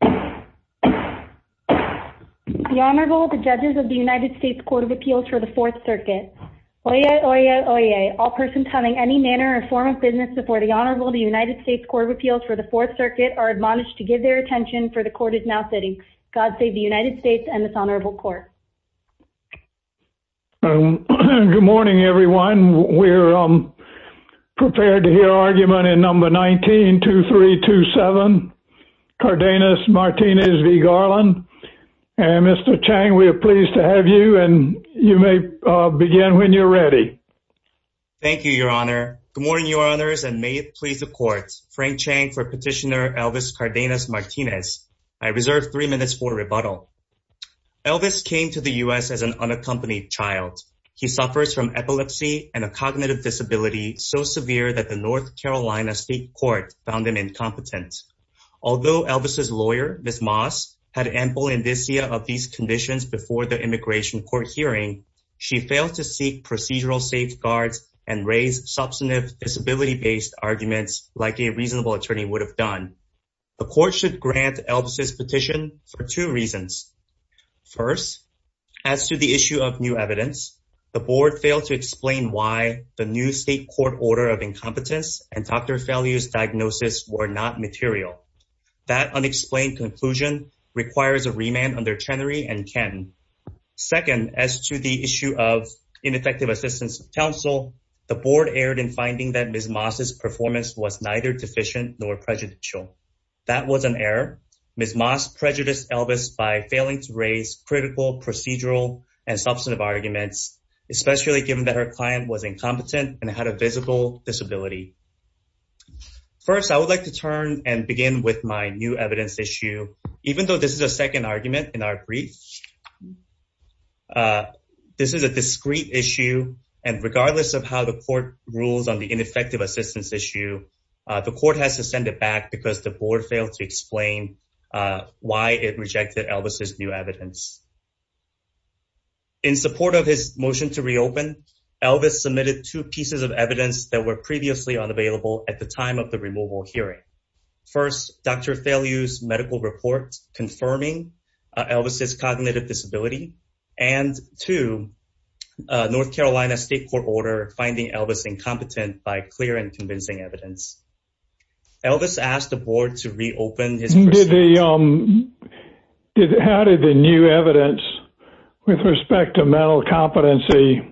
The Honorable, the Judges of the United States Court of Appeals for the Fourth Circuit. Oyez! Oyez! Oyez! All persons having any manner or form of business before the Honorable of the United States Court of Appeals for the Fourth Circuit are admonished to give their attention for the Court is now sitting. God save the United States and this Honorable Court. Good morning, everyone. We're prepared to hear argument in number 19-2327, Cardenas-Martinez v. Garland. And Mr. Chang, we are pleased to have you and you may begin when you're ready. Thank you, Your Honor. Good morning, Your Honors, and may it please the Court. Frank Chang for Petitioner Elvis Cardenas-Martinez. I reserve three minutes for rebuttal. Elvis came to the U.S. as an unaccompanied child. He suffers from epilepsy and a cognitive disability so severe that the North Carolina State Court found him incompetent. Although Elvis's lawyer, Ms. Moss, had ample indicia of these conditions before the immigration court hearing, she failed to seek procedural safeguards and raise substantive disability-based arguments like a reasonable attorney would have done. The Court should grant Elvis's two reasons. First, as to the issue of new evidence, the Board failed to explain why the new state court order of incompetence and Dr. Fellier's diagnosis were not material. That unexplained conclusion requires a remand under Chenery and Ken. Second, as to the issue of ineffective assistance of counsel, the Board erred in finding that Ms. Moss's performance was neither deficient nor prejudicial. That was an error. Ms. Moss prejudiced Elvis by failing to raise critical procedural and substantive arguments, especially given that her client was incompetent and had a visible disability. First, I would like to turn and begin with my new evidence issue. Even though this is a second argument in our brief, this is a rule on the ineffective assistance issue. The Court had to send it back because the Board failed to explain why it rejected Elvis's new evidence. In support of his motion to reopen, Elvis submitted two pieces of evidence that were previously unavailable at the time of the removal hearing. First, Dr. Fellier's medical report confirming Elvis's cognitive disability, and two, North Carolina's state court order finding Elvis incompetent by clear and convincing evidence. Elvis asked the Board to reopen. How did the new evidence with respect to mental competency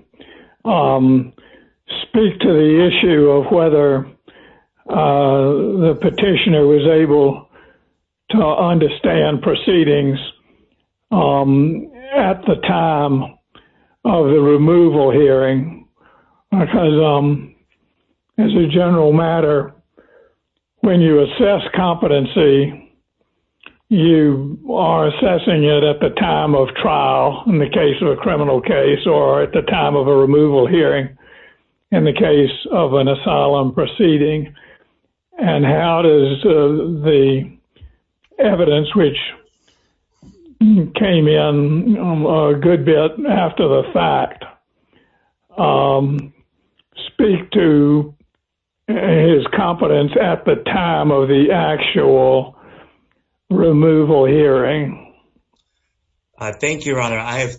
speak to the issue of whether the petitioner was able to understand proceedings at the time of the removal hearing? As a general matter, when you assess competency, you are assessing it at the time of trial in the case of a criminal case or at the time of a criminal case. I have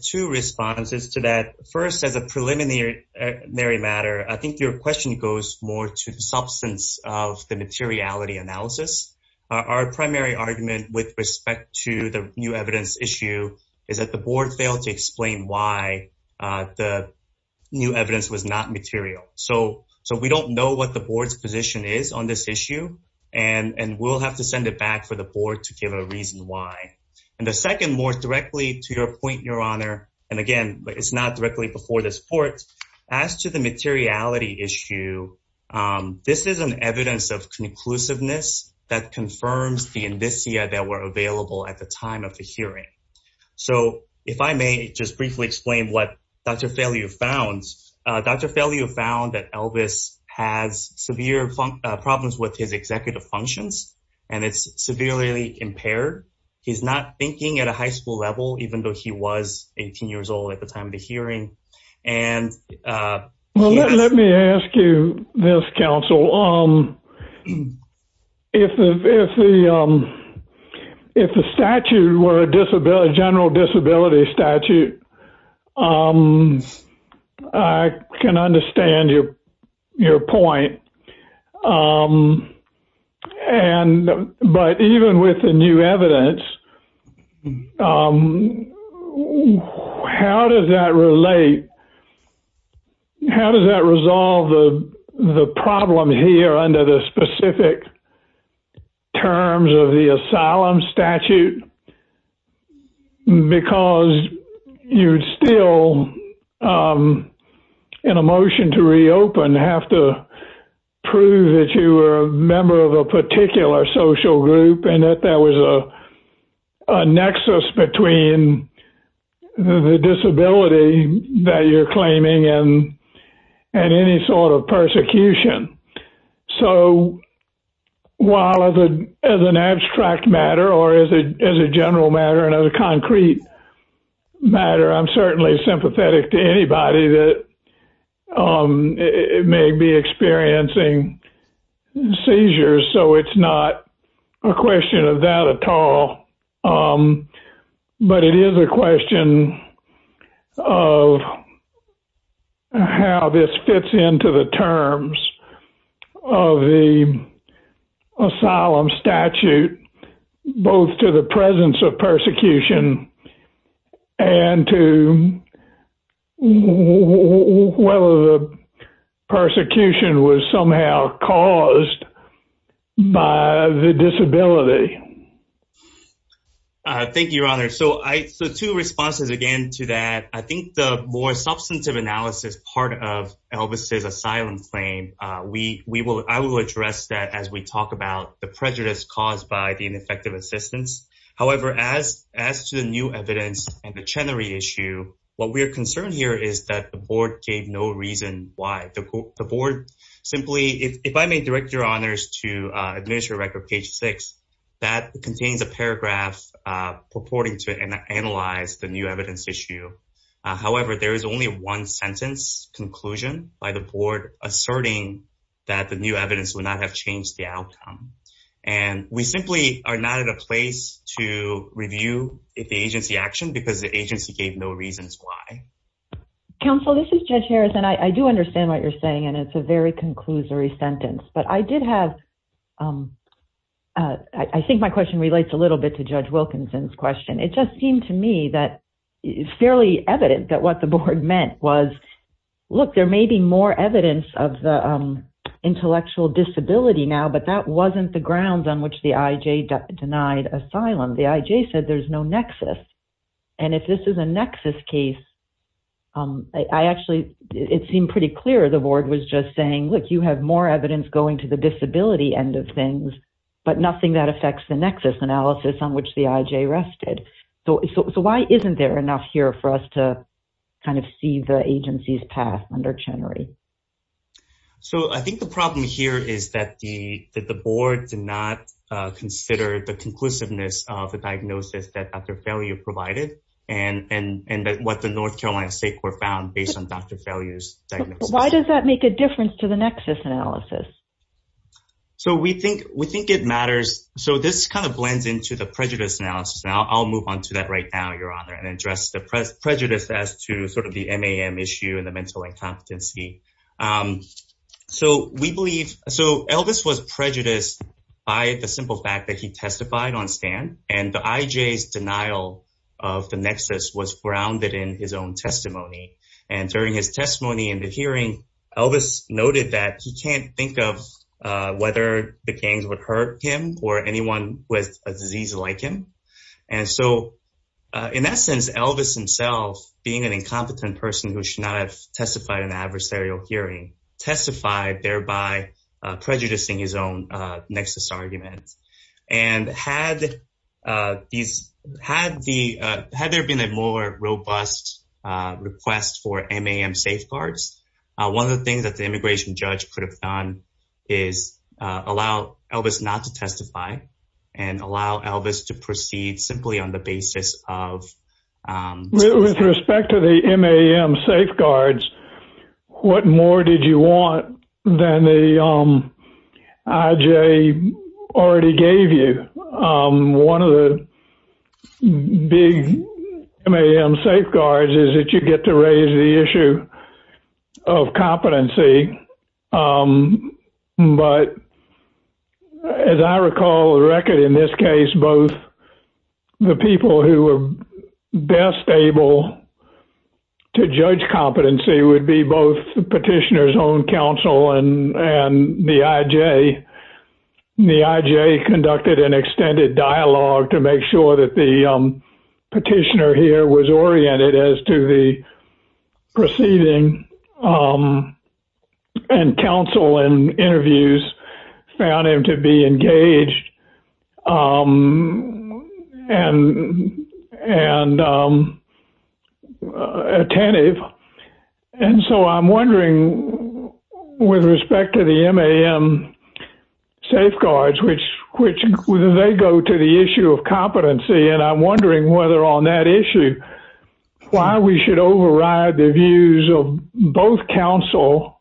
two responses to that. First, as a preliminary matter, I think your question goes more to the substance of the materiality analysis. Our primary argument with respect to the new evidence issue is that the Board failed to explain why the new evidence was not material. So, we don't know what the Board's position is on this issue, and we'll have to send it back for the Board to give a reason why. The second, more directly to your point, Your Honor, and again, it's not directly before this Court, as to the inclusiveness that confirms the indicia that were available at the time of the hearing. So, if I may just briefly explain what Dr. Fairliew found. Dr. Fairliew found that Elvis has severe problems with his executive functions, and it's severely impaired. He's not thinking at a high school level, even though he was 18 years old at the time of the hearing. Well, let me ask you this, counsel. If the statute were a general disability statute, I can understand your point. But even with the new evidence, how does that relate? How does that resolve the problem here under the specific terms of the asylum statute? Because you'd still, in a motion to reopen, have to prove that you were a member of a particular social group, and that that was a nexus between the disability that you're claiming and any sort of persecution. So, while as an abstract matter, or as a general matter, and as a concrete matter, I'm certainly sympathetic to anybody that may be experiencing seizures, so it's not a question of that at all. But it is a question of how this fits into the terms of the asylum statute, both to the presence of persecution and to whether the persecution was somehow caused by the disability. Thank you, your honor. So, two responses again to that. I think the more substantive analysis part of Elvis' asylum claim, I will address that as we talk about the prejudice caused by the ineffective assistance. However, as to the new evidence and the Chenery issue, what we're concerned here is that the board gave no reason why. The board simply, if I may direct your honors to Administrative Record page 6, that contains a paragraph purporting to analyze the new evidence issue. However, there is only one sentence by the board asserting that the new evidence would not have changed the outcome. And we simply are not in a place to review the agency action because the agency gave no reasons why. Counsel, this is Judge Harris, and I do understand what you're saying, and it's a very conclusory sentence. But I did have, I think my question relates a little bit to Judge Wilkinson's question. It just seemed to me that it's fairly evident that what the board meant was, look, there may be more evidence of intellectual disability now, but that wasn't the grounds on which the IJ denied asylum. The IJ said there's no nexus. And if this is a nexus case, I actually, it seemed pretty clear the board was just saying, look, you have more evidence going to the IJ than the IJ rested. So why isn't there enough here for us to kind of see the agency's path under Chenery? So I think the problem here is that the board did not consider the conclusiveness of the diagnosis that Dr. Failure provided and that what the North Carolina State Court found based on Dr. Failure's diagnosis. But why does that make a difference to the nexus analysis? So we think it matters. So this kind of blends into the prejudice analysis, and I'll move on to that right now, Your Honor, and address the prejudice as to sort of the MAM issue and the mental incompetency. So we believe, so Elvis was prejudiced by the simple fact that he testified on stand, and the IJ's denial of the nexus was grounded in his own testimony. And during his whether the gangs would hurt him or anyone with a disease like him. And so in essence, Elvis himself, being an incompetent person who should not have testified in an adversarial hearing, testified thereby prejudicing his own nexus argument. And had there been a more robust request for MAM safeguards, one of the things that the immigration judge could have done is allow Elvis not to testify and allow Elvis to proceed simply on the basis of With respect to the MAM safeguards, what more did you want than the IJ already gave you? One of the big MAM safeguards is that you get to raise the issue of competency. But as I recall, the record in this case, both the people who were best able to judge competency would be both petitioners on counsel and the IJ. The IJ conducted an petitioner here was oriented as to the proceeding and counsel and interviews found him to be engaged and attentive. And so I'm wondering with respect to the MAM safeguards, which they go to the issue of competency. And I'm wondering whether on that issue, why we should override the views of both counsel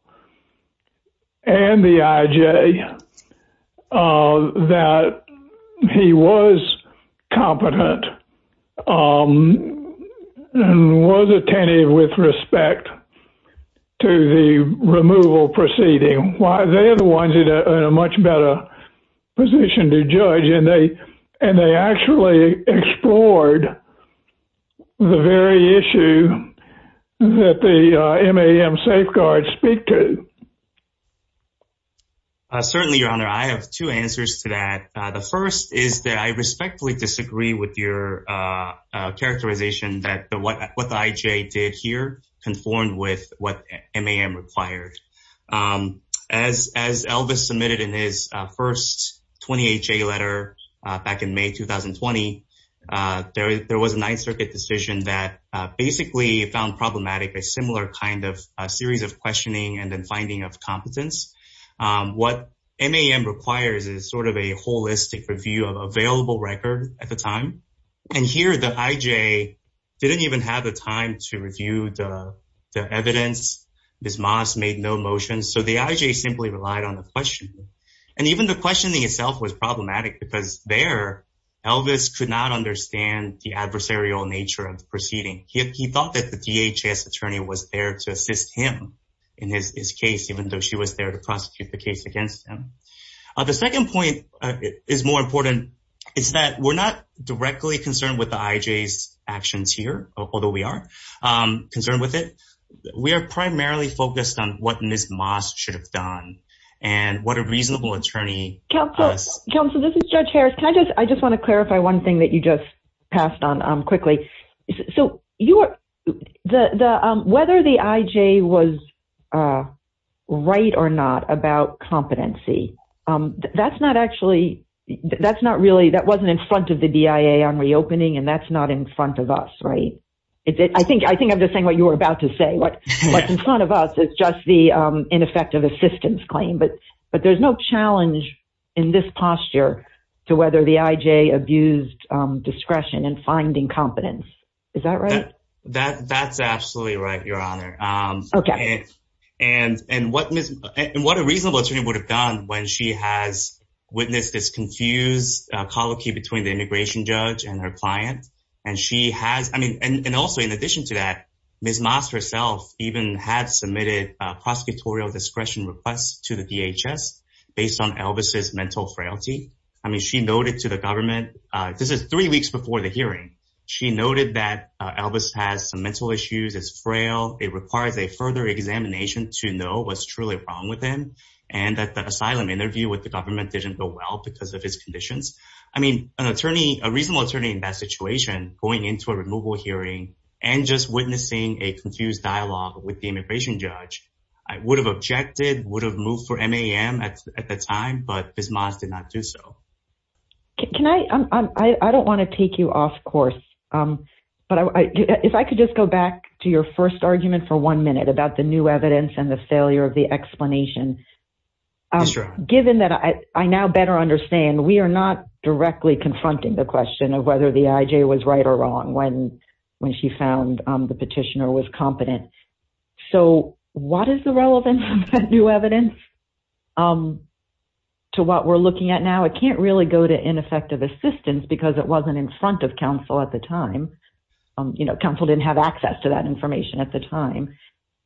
and the IJ that he was competent and was attentive with respect to the removal proceeding. Why they're the ones that are in a much better position to judge and they actually explored the very issue that the MAM safeguards speak to. Certainly, your honor, I have two answers to that. The first is that I respectfully disagree with your characterization that what the IJ did here conformed with what MAM requires. As Elvis submitted in his first 28-J letter back in May 2020, there was a 9th Circuit decision that basically found problematic a similar kind of series of review of available record at the time. And here the IJ didn't even have the time to review the evidence. Ms. Moss made no motion. So the IJ simply relied on the question. And even the questioning itself was problematic because there Elvis could not understand the adversarial nature of the proceeding. He thought that the DHS attorney was there to assist him in his case, even though she was there to prosecute the case against him. The second point is more important is that we're not directly concerned with the IJ's actions here, although we are concerned with it. We are primarily focused on what Ms. Moss should have done and what a reasonable attorney... Counsel, this is Judge Harris. I just want to clarify one thing that you just passed on quickly. So whether the IJ was right or not about competency that's not actually, that's not really, that wasn't in front of the DIA on reopening and that's not in front of us, right? I think I'm just saying what you were about to say. What's in front of us is just the ineffective assistance claim, but there's no challenge in this posture to whether the IJ abused discretion in finding competence. Is that right? That's absolutely right, Your Honor. Okay. And what a reasonable attorney would have done when she has witnessed this confused colloquy between the immigration judge and her client. And also in addition to that, Ms. Moss herself even had submitted prosecutorial discretion requests to the DHS based on Elvis's mental frailty. I mean, she noted to the government, this is three weeks before the hearing, she noted that Elvis has some mental issues, is frail. It required a further examination to know what's truly wrong with him and that the asylum interview with the government didn't go well because of his conditions. I mean, a reasonable attorney in that situation going into a removal hearing and just witnessing a confused dialogue with the immigration judge would have objected, would have moved for MAM at the time, but Ms. Moss did not do so. Can I, I don't want to take you off course, but if I could just go back to your first argument for one minute about the new evidence and the failure of the explanation. Given that I now better understand, we are not directly confronting the question of whether the IJ was right or wrong when she found the petitioner was competent. So what is the relevance of new evidence to what we're looking at now? It can't really go to ineffective assistance because it wasn't in front of counsel at the time. You know, counsel didn't have access to that information at the time.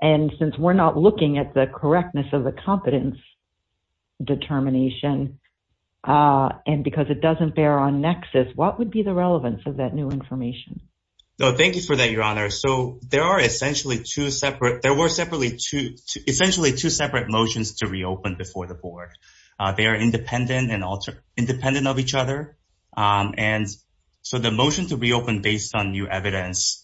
And since we're not looking at the correctness of the competence determination and because it doesn't bear on nexus, what would be the relevance of that new information? No, thank you for that, Your Honor. So there are essentially two separate, there were separately two, essentially two separate motions to reopen before the board. They are independent and alternate, independent of each other. And so the motion to reopen based on new evidence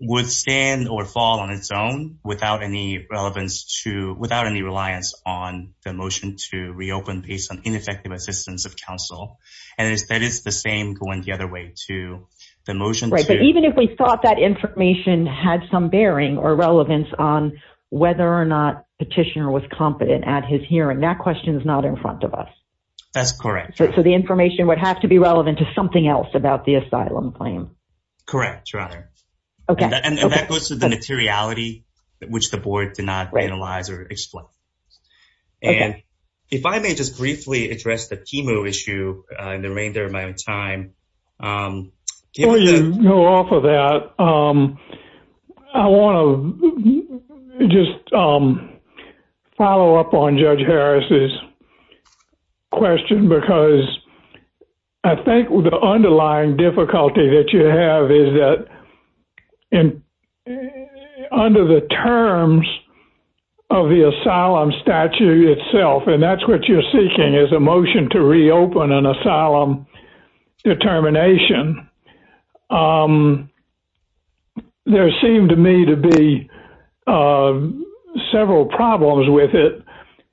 would stand or fall on its own without any relevance to, without any reliance on the motion to reopen based on ineffective assistance of counsel. And instead it's the same going the other way to the motion. Right. But even if we thought that information had some bearing or relevance on whether or not petitioner was competent at his hearing, that question is not in front of us. That's correct. So the information would have to be relevant to something else about the asylum claim. Correct, Your Honor. Okay. And that goes to the materiality which the board cannot analyze or explain. And if I may just briefly address the time. I want to just follow up on Judge Harris's question because I think the underlying difficulty that you have is that under the terms of the asylum statute itself, and that's what you're motion to reopen an asylum determination, there seemed to me to be several problems with it.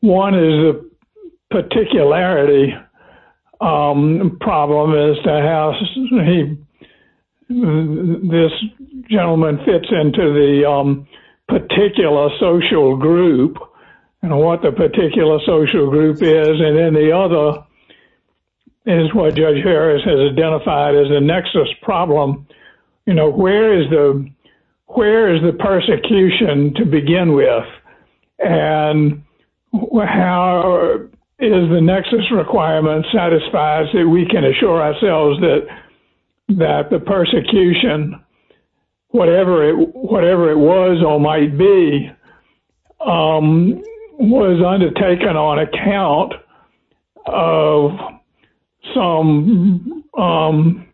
One is a particularity problem as to how this gentleman fits into the particular social group and what the particular social group is. And then the other is what Judge Harris has identified as a nexus problem. You know, where is the persecution to begin with? And how is the nexus requirement satisfies that we can assure ourselves that the persecution, whatever it was or might be, was undertaken on account of some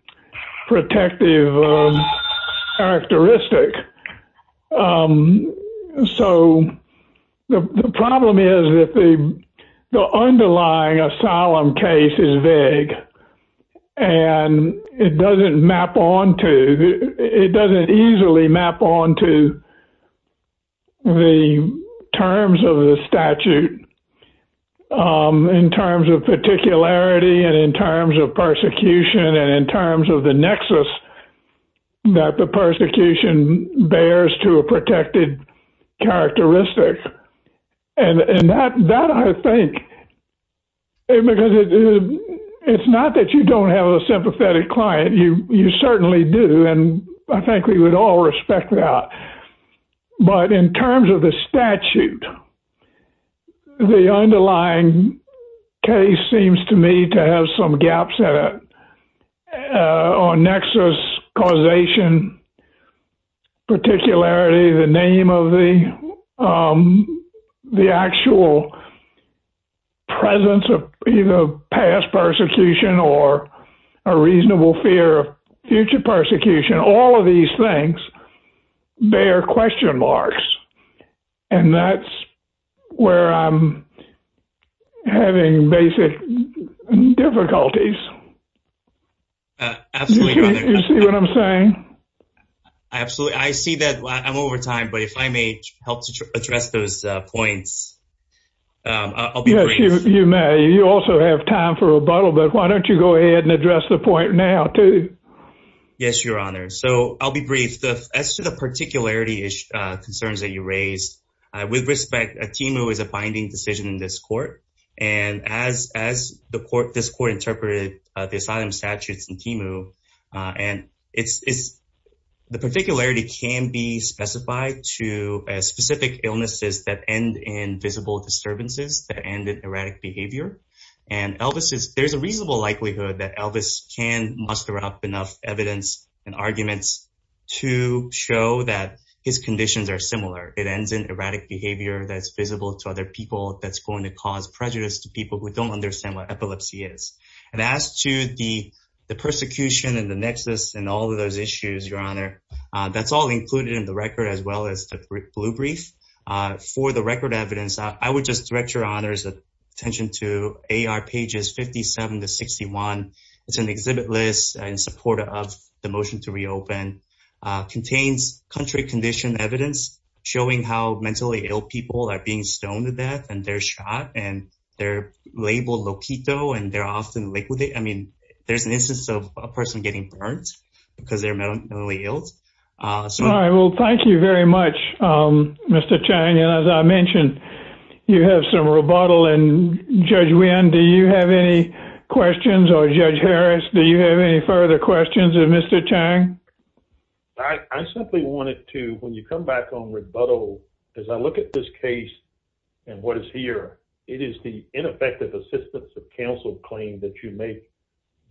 protective characteristic. So the problem is that the underlying asylum case is vague. And it doesn't map onto, it doesn't easily map onto the terms of the statute in terms of particularity and in terms of persecution and in terms of the nexus that the persecution bears to a protected characteristic. And that I think, because it's not that you don't have a sympathetic client, you certainly do, and I think we would all respect that. But in terms of the statute, the underlying case seems to me to have some gaps on nexus, causation, particularity, the name of the actual presence of either past persecution or a reasonable fear of future persecution, all of these things, they are question marks. And that's where I'm having basic difficulties. You see what I'm saying? Absolutely. I see that. I'm over time, but if I may help to address those points. Yes, you may. You also have time for rebuttal, but why don't you go ahead and address the point now, too? Yes, Your Honor. So I'll be brief. As to the particularity concerns that you raised, with respect, ATIMU is a binding decision in this court. And as this court interpreted the asylum statutes in ATIMU, and the particularity can be specified to specific illnesses that end in visible disturbances, that end in erratic behavior. And there's a reasonable likelihood that Elvis can muster up enough evidence and arguments to show that his conditions are similar. It ends in erratic behavior that's visible to other people that's going to cause prejudice to people who don't understand what epilepsy is. And as to the persecution and the nexus and all of those issues, Your Honor, that's all included in the record as well as the blue brief. For the record evidence, I would just direct Your Honor's attention to AR pages 57 to 61. It's an exhibit list in support of the motion to reopen. Contains country condition evidence showing how mentally ill people are being stoned to death. And they're labeled loquito and they're often liquidated. I mean, there's an instance of a person getting burned because they're mentally ill. All right. Well, thank you very much, Mr. Chang. And as I mentioned, you have some rebuttal. And Judge Wynn, do you have any questions? Or Judge Harris, do you have any further questions of Mr. Chang? I simply wanted to, when you come back on rebuttal, as I look at this case and what is here, it is the ineffective assistance of counsel claim that you make.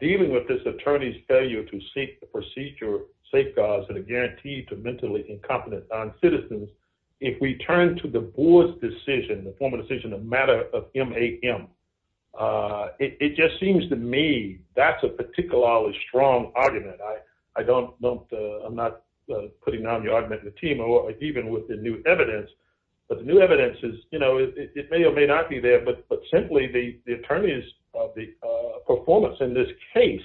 Dealing with this attorney's failure to seek the procedure safeguards that are guaranteed to mentally incompetent noncitizens, if we turn to the board's decision, the formal decision, a matter of MAM, it just seems to me that's a particularly strong argument. I'm not putting the team or even with the new evidence, but the new evidence is, you know, it may or may not be there, but simply the attorneys of the performance in this case,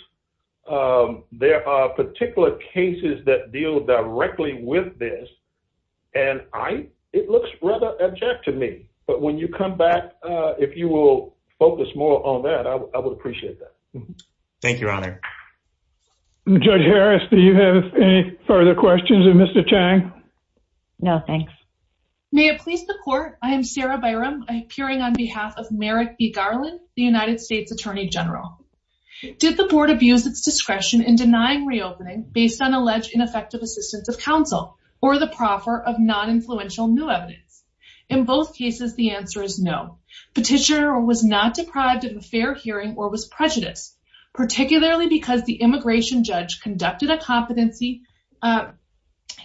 there are particular cases that deal directly with this. And I, it looks rather abject to me, but when you come back, if you will focus more on that, I would appreciate that. Thank you, Your Honor. And Judge Harris, do you have any further questions of Mr. Chang? No, thanks. May it please the court. I am Sarah Byron, appearing on behalf of Merrick B. Garland, the United States Attorney General. Did the board abuse its discretion in denying reopening based on alleged ineffective assistance of counsel or the proffer of non-influential new evidence? In both cases, the answer is no. Petitioner was not deprived of a fair hearing or was prejudiced, particularly because the immigration judge conducted a competency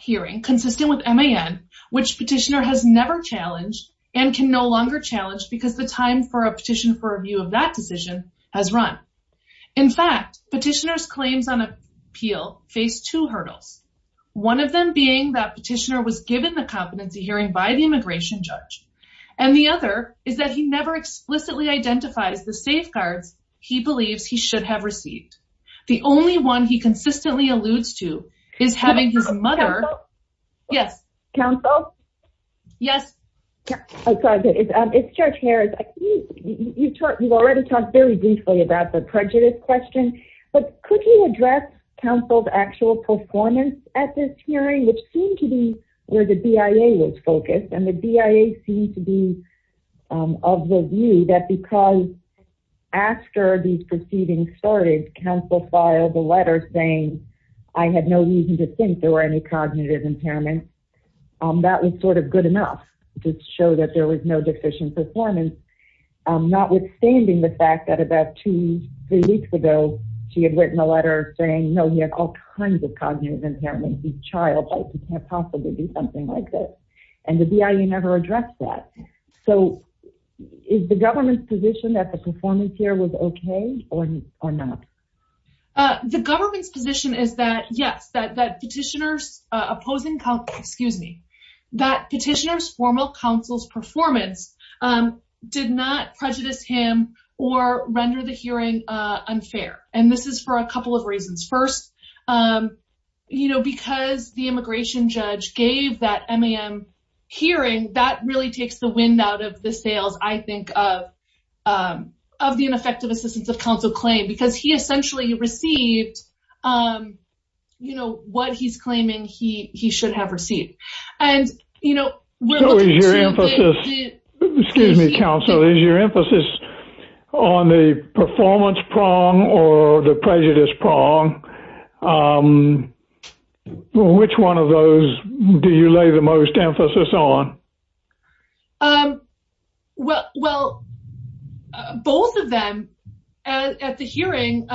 hearing consistent with MAM, which petitioner has never challenged and can no longer challenge because the time for a petition for review of that position has run. In fact, petitioner's claims on appeal face two hurdles. One of them being that petitioner was given the competency hearing by the immigration judge. And the other is that he never explicitly identified the safeguards he believes he should have received. The only one he consistently alludes to is having her mother- Counsel? Yes. Counsel? Yes. I'm sorry. It's Judge Harris. You've already talked very briefly about the prejudice question, but could you address counsel's actual performance at this hearing, which seemed to be where the BIA was focused? And the BIA seemed to be of the view that because after these proceedings started, counsel filed a letter saying, I had no reason to think there were any cognitive impairments. That was sort of good enough to show that there was no deficient performance. Notwithstanding the fact that about two, three weeks ago, she had written a letter saying, no, he had all kinds of cognitive impairments. He's a child. He can't possibly do something like this. And the BIA never addressed that. So is the government's position that the performance here was okay or not? The government's position is that yes, that petitioner's opposing counsel, excuse me, that petitioner's formal counsel's performance did not prejudice him or render the hearing unfair. And this is for a couple of reasons. First, because the immigration judge gave that MAM hearing, that really takes the wind out of the sails, I think, of the ineffective assistance of counsel claim, because he essentially received what he's claiming he should have received. And, you know, excuse me, counsel, is your emphasis on the performance prong or the prejudice prong? Which one of those do you lay the most emphasis on? Well, both of them at the hearing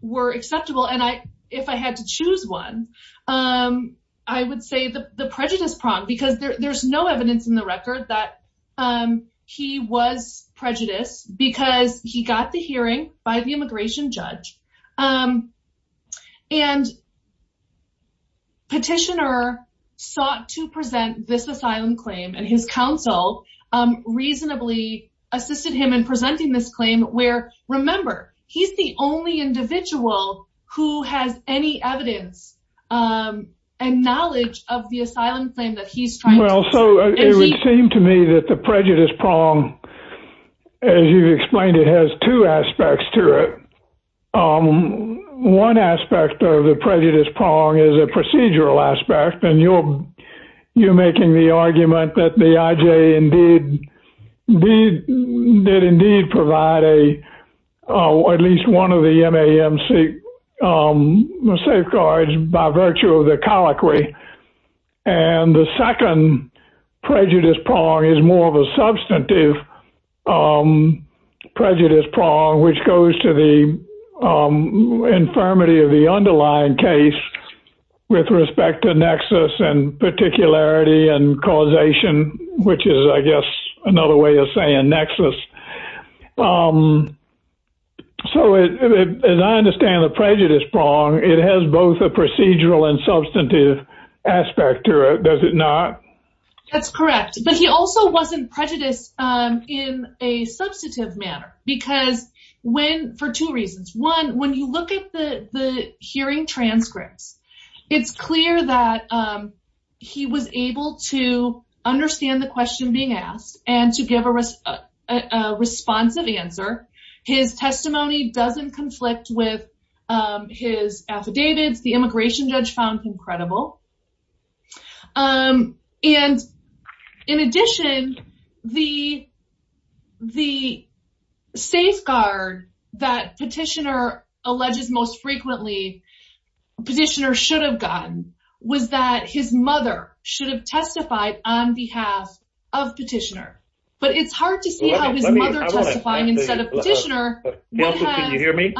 were acceptable. And if I had to choose one, I would say the prejudice prong, because there's no evidence in the record that he was prejudiced because he got the hearing by the immigration judge. And the petitioner sought to present this asylum claim and his counsel reasonably assisted him in presenting this claim where, remember, he's the only individual who has any evidence and knowledge of the asylum claim that he's trying to... Well, so it would seem to me that the prejudice prong, as you explained, it has two aspects to it. One aspect of the prejudice prong is a procedural aspect, and you're making the argument that the IJ did indeed provide at least one of the MAM safeguards by virtue of the colloquy. And the second prejudice prong is more of a substantive prejudice prong, which goes to the infirmity of the underlying case with respect to nexus and particularity and causation, which is, I guess, another way of saying nexus. So as I understand the prejudice prong, it has both a procedural and substantive aspect to it, does it not? That's correct. But he also wasn't prejudiced in a substantive manner because for two reasons. One, when you look at the hearing transcript, it's clear that he was able to understand the question being asked and to give a responsive answer. His testimony doesn't conflict with his affidavits. The immigration the safeguard that petitioner alleged most frequently, petitioner should have gotten, was that his mother should have testified on behalf of petitioner. But it's hard to see how his mother testified instead of petitioner. Counsel, can you hear me?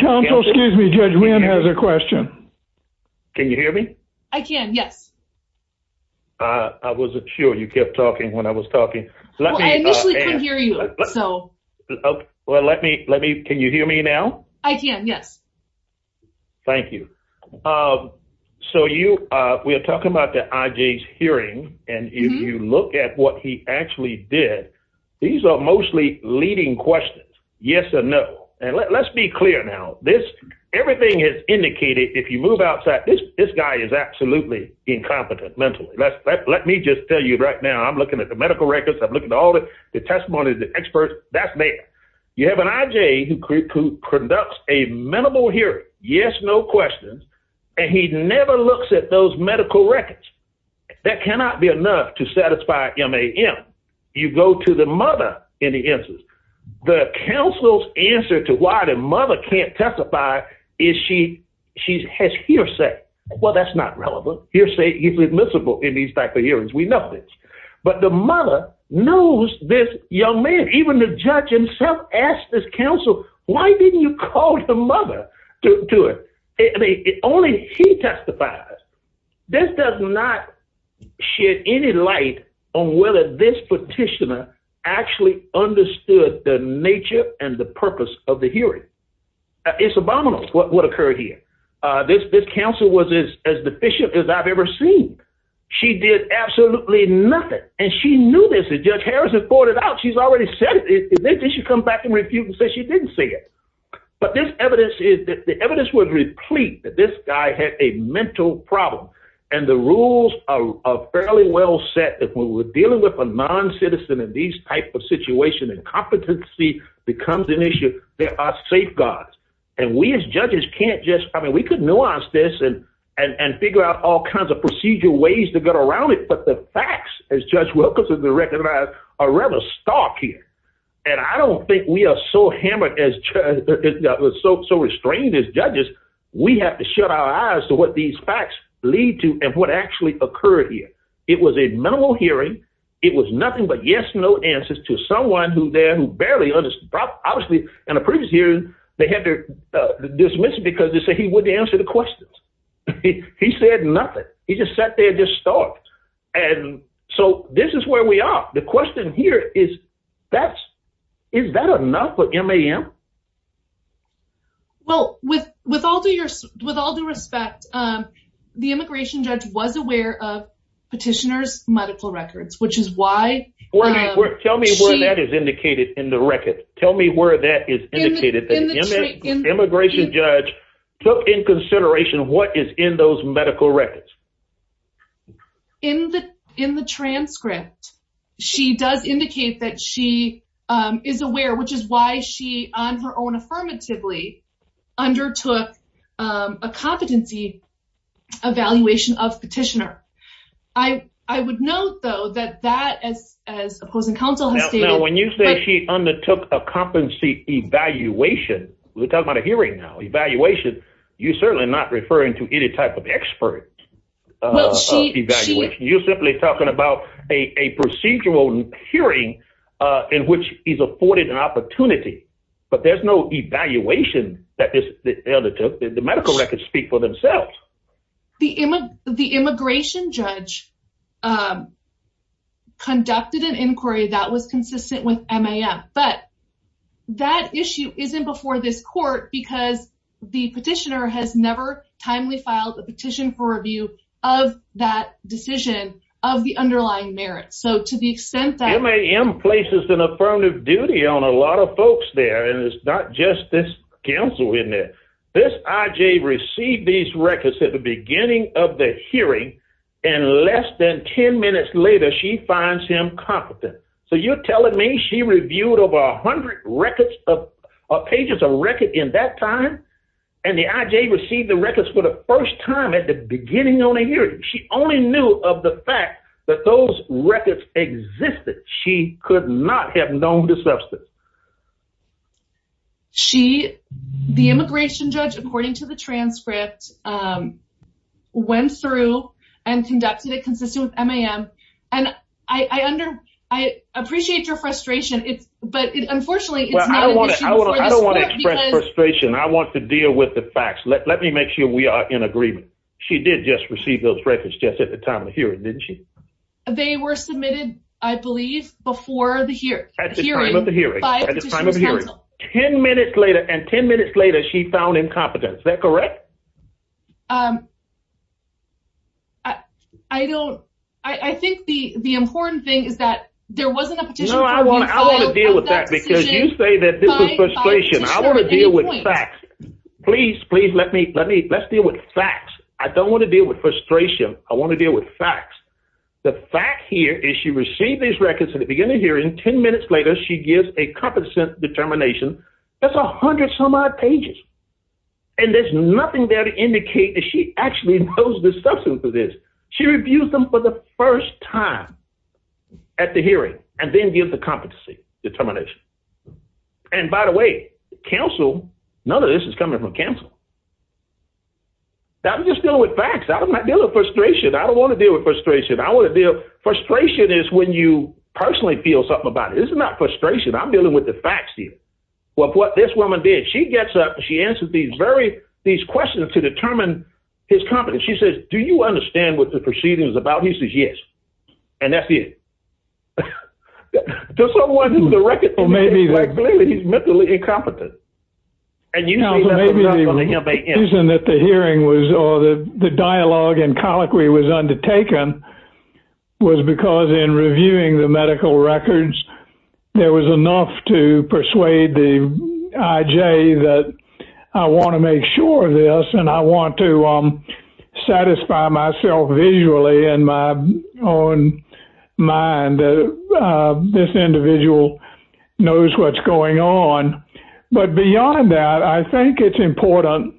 Counsel, excuse me, Judge Wynn has a question. Can you hear me? I can, yes. I wasn't sure you kept talking when I was talking. Well, I know we can hear you. Well, can you hear me now? I can, yes. Thank you. So we are talking about the IJ's hearing and if you look at what he actually did, these are mostly leading questions, yes or no. And let's be clear now, everything is indicated, if you move outside, this guy is absolutely incompetent mentally. Let me just tell you right now, I'm looking at the medical records, I'm looking at all the testimonies, the experts, that's there. You have an IJ who conducts a minimal hearing, yes, no questions, and he never looks at those medical records. That cannot be enough to satisfy MAM. You go to the mother in the instance. The counsel's answer to why the mother can't testify is she has hearsay. Well, that's not relevant. Hearsay is admissible in these type of hearings. We know this. But the mother knows this young man, even the judge himself asked this counsel, why didn't you call the mother to do it? Only he testifies. This does not shed any light on whether this petitioner actually understood the nature and the purpose of the hearing. It's abominable what occurred here. This counsel was as deficient as I've ever seen. She did absolutely nothing. And she knew this, as Judge Harrison pointed out, she's already said it. Then she should come back and refute and say she didn't say it. But this evidence is, the evidence would replete that this guy had a mental problem. And the rules are fairly well set that when we're dealing with a non-citizen in these type of situation and competency becomes an issue, there are safeguards. And we as judges can't just, I mean, we could nuance this and figure out all kinds of procedural ways to get around it. But the facts, as Judge Wilkinson recognized, are rather stark here. And I don't think we are so hammered, so restrained as judges, we have to shut our eyes to what these facts lead to and what actually occurred here. It was a minimal hearing. It was nothing but yes-no answers to someone who then barely understood. Obviously, in a previous hearing, they had to dismiss it because they said he wouldn't answer the questions. He said nothing. He just sat there and just starved. And so this is where we are. The question here is, is that enough for MAM? Well, with all due respect, the immigration judge was aware of petitioner's medical records, which is why... Tell me where that is indicated in the record. Tell me where that is indicated, that immigration judge took in consideration what is in those medical records. In the transcript, she does indicate that she is aware, which is why she on her own affirmatively undertook a competency evaluation of petitioner. I would note, though, that that, as opposing counsel has stated... Now, when you say she undertook a competency evaluation, we're talking about a hearing now, evaluation, you're certainly not referring to any type of expert evaluation. You're simply talking about a procedural hearing in which he's afforded an opportunity, but there's no evaluation that is eligible. The medical records speak for themselves. The immigration judge conducted an inquiry that was consistent with MAM, but that issue isn't before this court because the petitioner has never timely filed a petition for review of that decision of the underlying merits. So to the extent that... Duty on a lot of folks there, and it's not just this counsel in there. This IJ received these records at the beginning of the hearing, and less than 10 minutes later, she finds him competent. So you're telling me she reviewed over 100 pages of record in that time, and the IJ received the records for the first time at the beginning of the hearing. She only knew of the fact that those records were in the substance. The immigration judge, according to the transcript, went through and conducted it consistent with MAM, and I appreciate your frustration, but unfortunately... I don't want to express frustration. I want to deal with the facts. Let me make sure we are in agreement. She did just receive those records just at the time of the hearing. At the time of the hearing. 10 minutes later, and 10 minutes later, she found incompetent. Is that correct? I don't... I think the important thing is that there wasn't a... No, I want to deal with that because you say that this is frustration. I want to deal with facts. Please, please let me... Let's deal with facts. I don't want to deal with frustration. I want to deal with facts. The fact here is she received these records at the beginning of the hearing. 10 minutes later, she gives a competent determination. That's 100 some odd pages, and there's nothing there to indicate that she actually knows the substance of this. She reviews them for the first time at the hearing and then gives the competency determination. And by the way, counsel... None of this is coming from counsel. I'm just dealing with facts. I'm not dealing with frustration. I don't want to deal with something about it. This is not frustration. I'm dealing with the facts here of what this woman did. She gets up and she answers these questions to determine his competence. She says, do you understand what the proceeding is about? He says, yes. And that's it. There's no one in the record... Maybe like... Clearly, he's mentally incompetent. And you... Counsel, maybe the reason that the hearing was or the dialogue and colloquy was undertaken was because in reviewing the medical records, there was enough to persuade the IJ that I want to make sure of this and I want to satisfy myself visually in my own mind that this individual knows what's going on. But beyond that, I think it's important...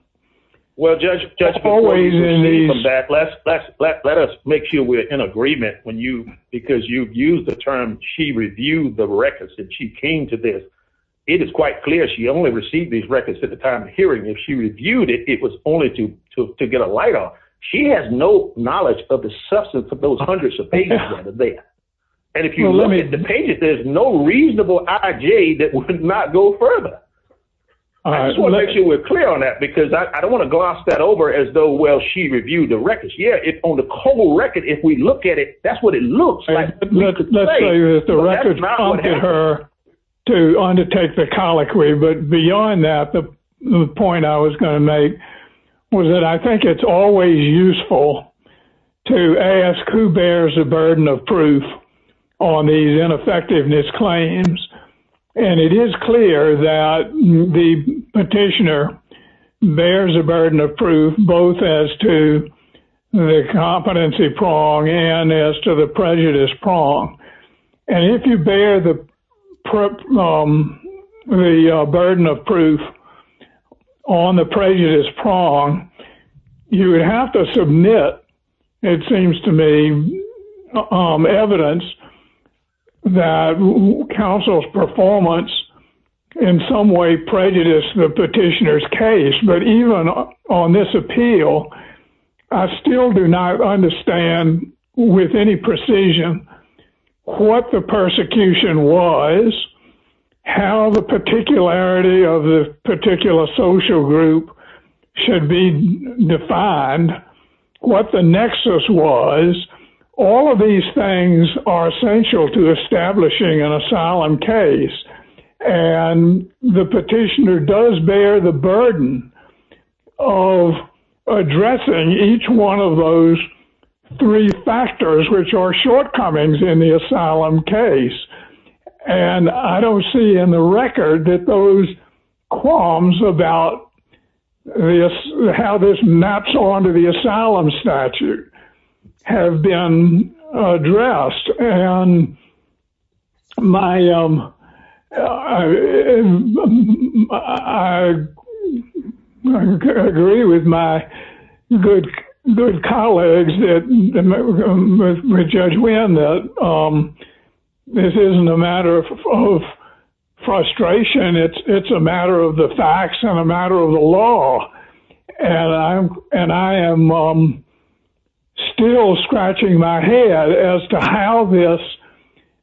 Well, Judge, before we proceed in the back, let us make sure we're in agreement because you've used the term she reviewed the records and she came to this. It is quite clear she only received these records at the time of hearing. If she reviewed it, it was only to get a light on. She has no knowledge of the substance of those hundreds of pages under there. And if you look at the pages, there's no reasonable IJ that would not go further. I just want to make sure we're clear on that because I don't want to gloss that over as though, well, she reviewed the records. Yeah, on the whole record, if we look at it, that's what it looks like. Let's say that the record's bound to her to undertake the colloquy. But beyond that, the point I was going to make was that I think it's always useful to ask who bears the burden of proof on these ineffectiveness claims. And it is clear that the petitioner bears the burden of proof both as to the competency prong and as to the prejudice prong. And if you bear the burden of proof on the prejudice prong, you have to submit, it seems to me, evidence that counsel's performance in some way prejudice the petitioner's case. But even on this appeal, I still do not understand with any precision what the persecution was, how the particularity of the particular social group should be defined, what the nexus was. All of these things are essential to establishing an asylum case. And the petitioner does bear the burden of addressing each one of those three factors, which are shortcomings in the asylum case. And I don't see in the record that those qualms about how this maps onto the This isn't a matter of frustration. It's a matter of the facts and a matter of the law. And I am still scratching my head as to how this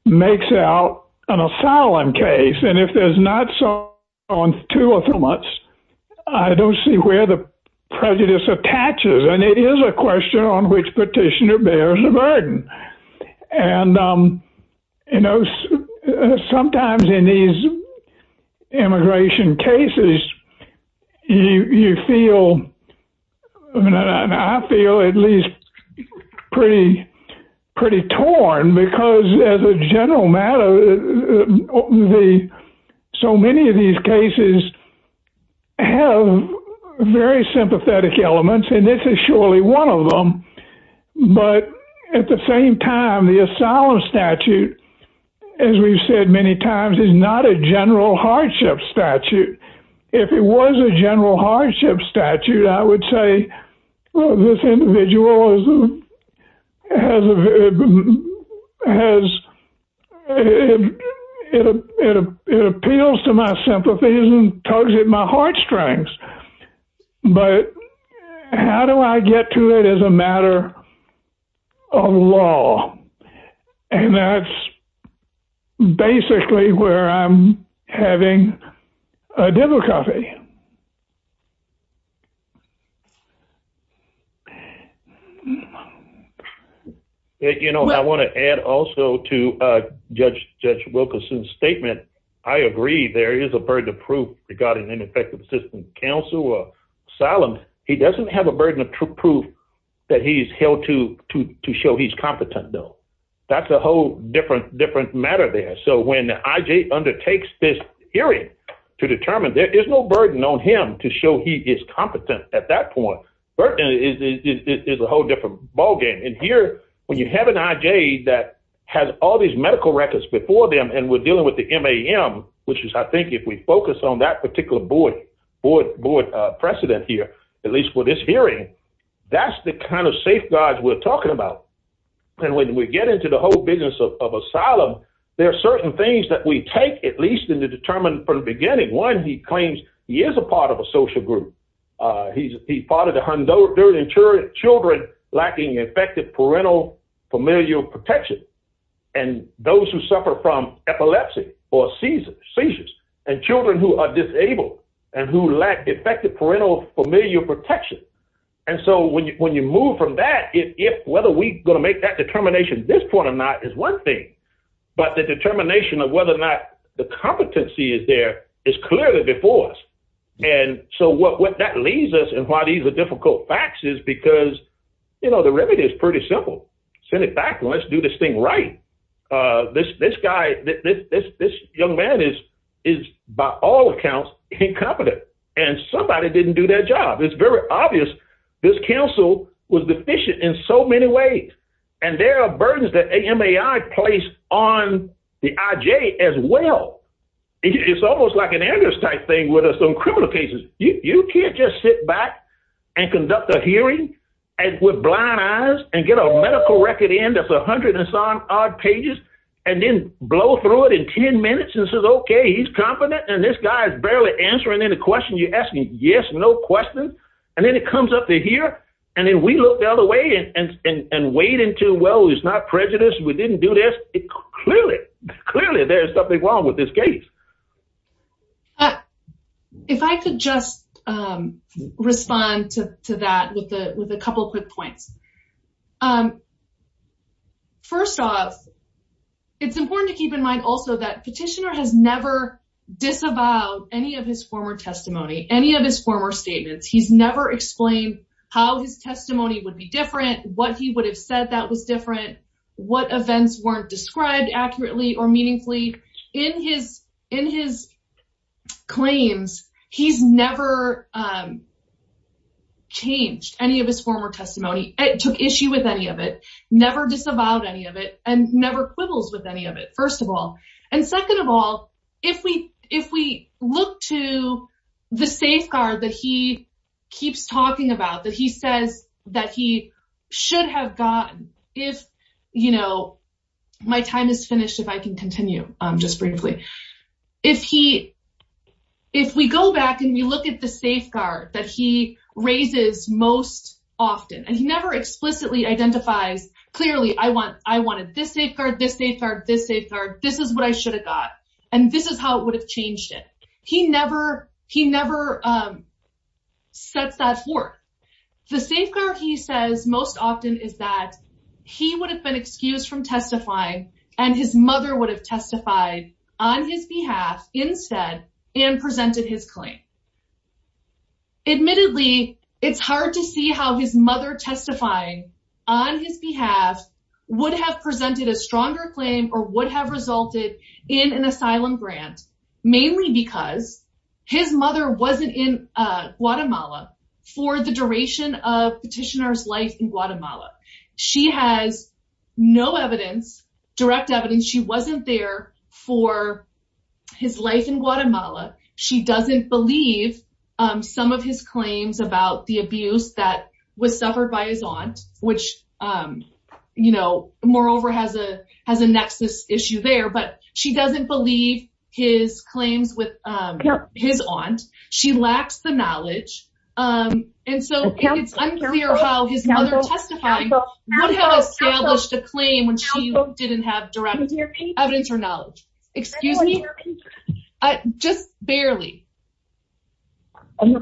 makes out an asylum case. And if there's not so on two or three months, I don't see where the prejudice attaches. And it is a question on which you know, sometimes in these immigration cases, you feel, I mean, I feel at least pretty, pretty torn because as a general matter, the so many of these cases have very sympathetic elements, and this is surely one of them. But at the same time, the asylum statute, as we've said many times, is not a general hardship statute. If it was a general hardship statute, I would say, well, this individual has, it appeals to my sympathies and tugs at my heartstrings. But how do I get to it as a matter of law? And that's basically where I'm having a dipper coffee. You know, I want to add also to Judge Wilkerson's statement, I agree, there is a burden of proof regarding ineffective system of counsel or asylum. He doesn't have a burden of proof that he's held to show he's competent, though. That's a whole different matter there. So when IJ undertakes this hearing to determine, there's no burden on him to show he is competent at that point. There is a whole different ballgame. And here, when you have an IJ that has all these medical records before them, and we're dealing with the MAM, which is I think if we focus on that particular board president here, at least for this hearing, that's the kind of safeguards we're talking about. And when we get into the whole business of asylum, there are certain things that we take at least in the determined from the beginning. One, he claims he is a part of a social group. He's part of the Honduran children lacking effective parental familial protection. And those who suffer from epilepsy or seizures and children who are disabled and who lack effective parental familial protection. And so when you move from that, whether we're going to make that determination at this point or not is one thing. But the determination of whether or not the competency is there is clearly before us. And so what that leaves us and why these are simple. Send it back. Let's do this thing right. This young man is by all accounts incompetent. And somebody didn't do their job. It's very obvious this council was deficient in so many ways. And there are burdens that AMAI placed on the IJ as well. It's almost like an angus type thing with us on criminal cases. You can't just sit back and conduct a hearing with blind eyes and get a medical record in that's 100 and some odd pages and then blow through it in 10 minutes and say, okay, he's confident and this guy is barely answering any questions. You're asking, yes, no questions. And then it comes up to here and then we look the other way and wait until, well, it's not prejudice. We didn't do this. Clearly, clearly there's something wrong with this case. If I could just respond to that with a couple quick points. First off, it's important to keep in mind also that petitioner has never disavowed any of his former testimony, any of his former statements. He's never explained how his testimony would be different, what he would have said that was different, what events weren't described accurately or meaningfully. In his claims, he's never changed any of his former testimony, took issue with any of it, never disavowed any of it, and never quibbles with any of it, first of all. And second of all, if we look to the safeguard that he keeps talking about, that he says that he should have gotten, if my time is finished, if I can continue just briefly, if we go back and we look at the safeguard that he raises most often, and he never explicitly identifies, clearly, I wanted this safeguard, this safeguard, this safeguard, this is what I should have got, and this is how it would have changed it. He never sets that forth. The safeguard he says most often is that he would have been excused from testifying and his mother would have testified on his behalf instead and presented his claim. Admittedly, it's hard to see how his mother testifying on his behalf would have presented a stronger claim or would have resulted in an asylum grant, mainly because his mother wasn't in Guatemala for the duration of petitioner's in Guatemala. She has no evidence, direct evidence, she wasn't there for his life in Guatemala. She doesn't believe some of his claims about the abuse that was suffered by his aunt, which, you know, moreover, has a nexus issue there, but she doesn't believe his claims with his aunt. She lacks the knowledge, and so it's unclear how his mother testifying would have established a claim when she didn't have direct evidence or knowledge. Excuse me? Just barely. Really?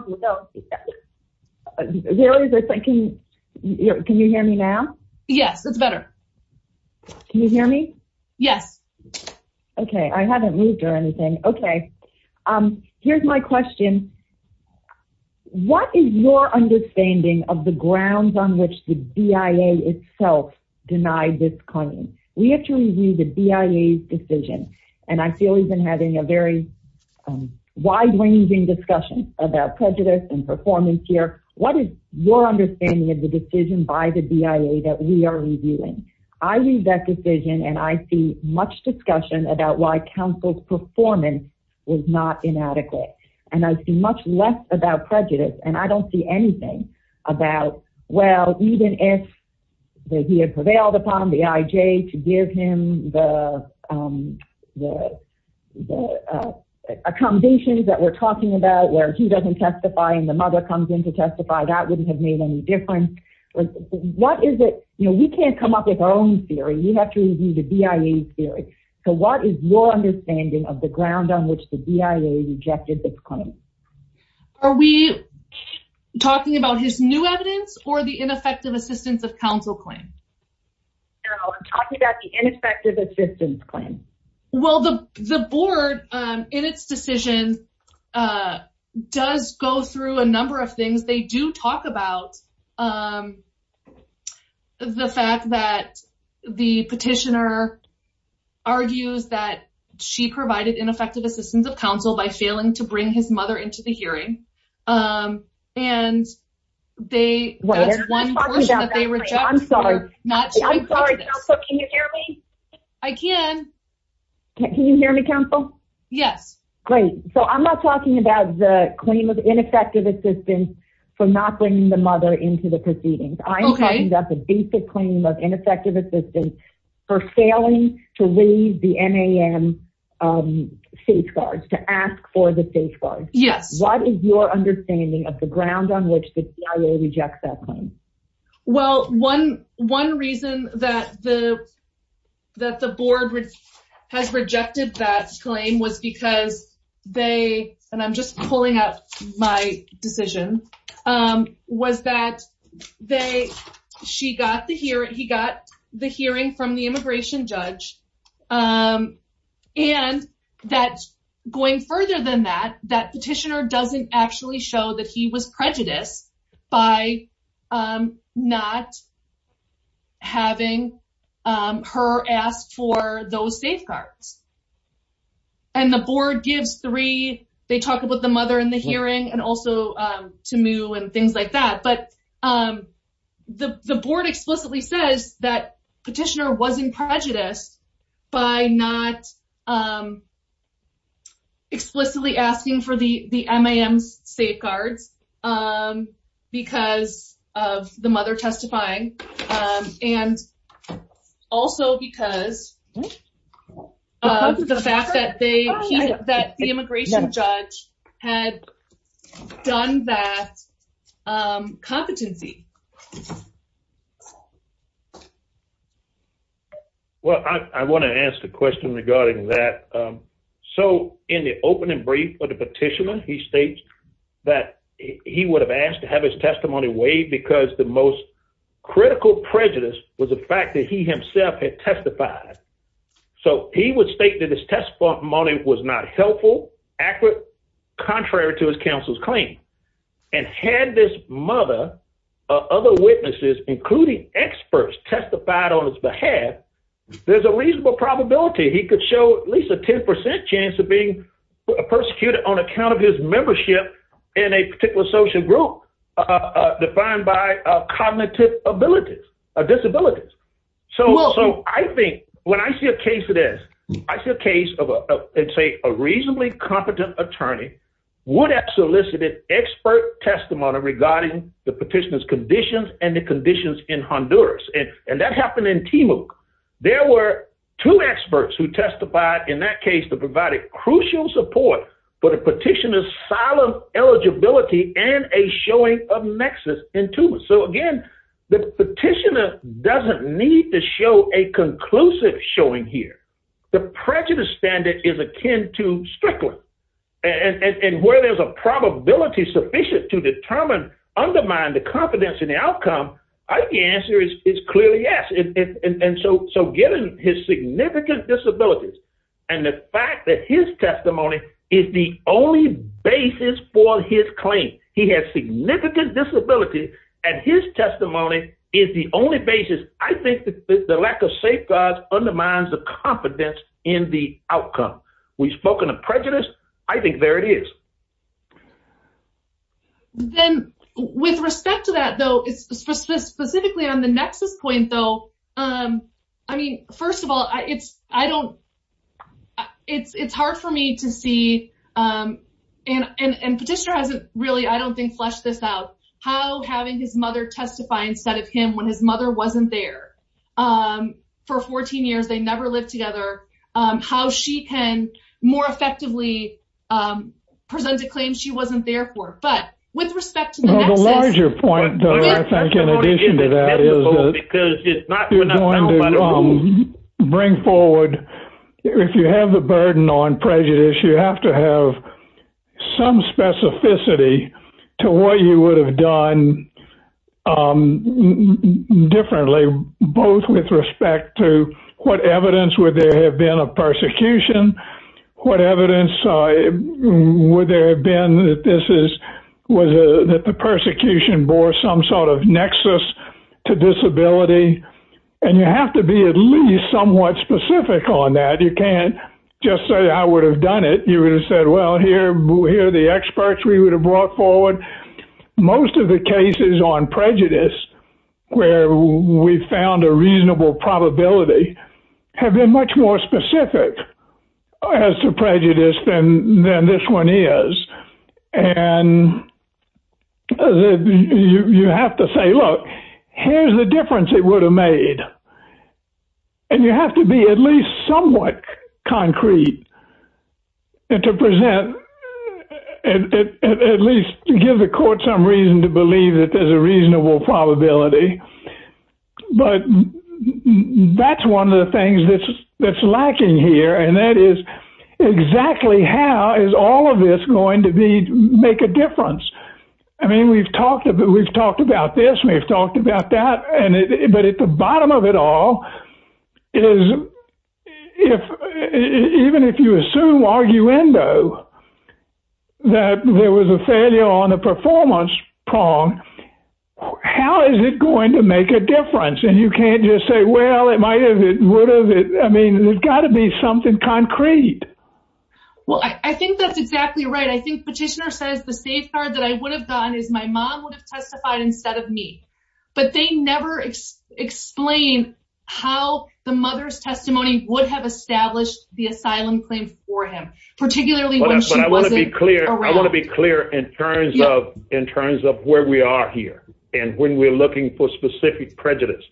Can you hear me now? Yes, that's better. Can you hear me? Yes. Okay, I haven't moved or anything. Okay, here's my question. What is your understanding of the grounds on which the BIA itself denied this claim? We have to review the BIA's decision, and I feel we've been having a very wide-ranging discussion about prejudice and performance here. What is your understanding of the decision by the BIA that we are reviewing? I read that decision and I see much discussion about why counsel's performance was not inadequate, and I see much less about prejudice, and I don't see anything about, well, even if he had prevailed upon the IJ to give him the accommodations that we're talking about where he doesn't testify and the mother comes in to testify, that wouldn't have made any difference. What is it? You know, we the BIA's theory. So what is your understanding of the grounds on which the BIA rejected this claim? Are we talking about his new evidence or the ineffective assistance of counsel claim? No, I'm talking about the ineffective assistance claim. Well, the board, in its decision, does go through a number of things. They do talk about the fact that the petitioner argues that she provided ineffective assistance of counsel by failing to bring his mother into the hearing, and they... I'm sorry, counsel, can you hear me? I can. Can you hear me, counsel? Yes. Great. So I'm not talking about the claim of ineffective assistance for not bringing the mother into the proceedings. Okay. I'm talking about the basic claim of ineffective assistance for failing to leave the NAM safeguards, to ask for the safeguards. Yes. What is your understanding of the ground on which the BIA rejects that claim? Well, one reason that the board has rejected that claim was because they, and I'm just pulling out my decisions, was that she got the hearing, he got the hearing from the immigration judge, and that going further than that, that petitioner doesn't actually show that he was prejudiced by not having her ask for those safeguards. And the board gives three, they talk about the mother and the hearing, and also to move and things like that. But the board explicitly says that petitioner wasn't prejudiced by not explicitly asking for the MAM safeguards because of the mother testifying, and also because of the fact that the immigration judge had done that competently. Well, I want to ask a question regarding that. So in the opening brief of the petitioner, he states that he would have asked to have his testimony waived because the most So he would state that his testimony was not helpful, accurate, contrary to his counsel's claim. And had this mother or other witnesses, including experts, testified on his behalf, there's a reasonable probability he could show at least a 10% chance of being persecuted on account of his membership in a particular social group defined by cognitive abilities or disabilities. So I think when I see a case of this, I see a case of a, let's say, a reasonably competent attorney would have solicited expert testimony regarding the petitioner's conditions and the conditions in Honduras. And that happened in Timuc. There were two experts who testified in that case that provided crucial support for the petitioner doesn't need to show a conclusive showing here. The prejudice standard is akin to strictly. And where there's a probability sufficient to determine, undermine the confidence in the outcome, I think the answer is clearly yes. And so given his significant disabilities, and the fact that his testimony is the only basis for his claim, he has significant disability, and his testimony is the only basis, I think the lack of safeguards undermines the confidence in the outcome. We've spoken of prejudice. I think there it is. Then with respect to that, though, specifically on the nexus point, though, I mean, first of all, it's hard for me to see, and petitioner hasn't really, I don't think, how having his mother testify instead of him when his mother wasn't there for 14 years, they never lived together, how she can more effectively present the claim she wasn't there for. But with respect to that. The larger point, though, I think in addition to that, is that you're going to bring forward, if you have the burden on prejudice, you have to have some specificity to what you would have done differently, both with respect to what evidence would there have been of persecution, what evidence would there have been that the persecution bore some sort of nexus to disability. And you have to be at least somewhat specific on that. You can't just say, I would have done it. You would have said, well, here are the experts we would have brought forward. Most of the cases on prejudice, where we found a reasonable probability, have been much more specific as to prejudice than this one is. And you have to say, look, here's the difference it would have made. And you have to be at least somewhat concrete and to present, at least to give the court some reason to believe that there's a reasonable probability. But that's one of the things that's lacking here. And that is, exactly how is all of this going to make a difference? I mean, we've talked about this and we've talked about that. But at the bottom of it all, even if you assume arguendo, that there was a failure on the performance prong, how is it going to make a difference? And you can't just say, well, it might have, it would have, I mean, there's got to be something concrete. Well, I think that's exactly right. I think Petitioner says the safeguard that I would have gotten is my mom would have testified instead of me. But they never explain how the mother's testimony would have established the asylum claim for him, particularly when she wasn't around. But I want to be clear in terms of where we are here. And when we're looking for specific prejudice,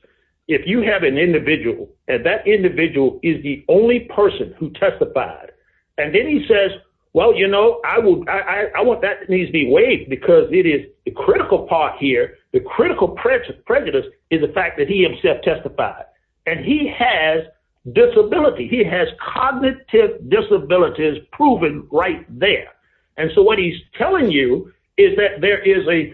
if you have an individual and that individual is the only person who testified, and then he says, well, you know, I want that to be weighed because it is the critical part here, the critical prejudice is the fact that he himself testified. And he has disability, he has cognitive disabilities proven right there. And so what he's telling you is that there is a,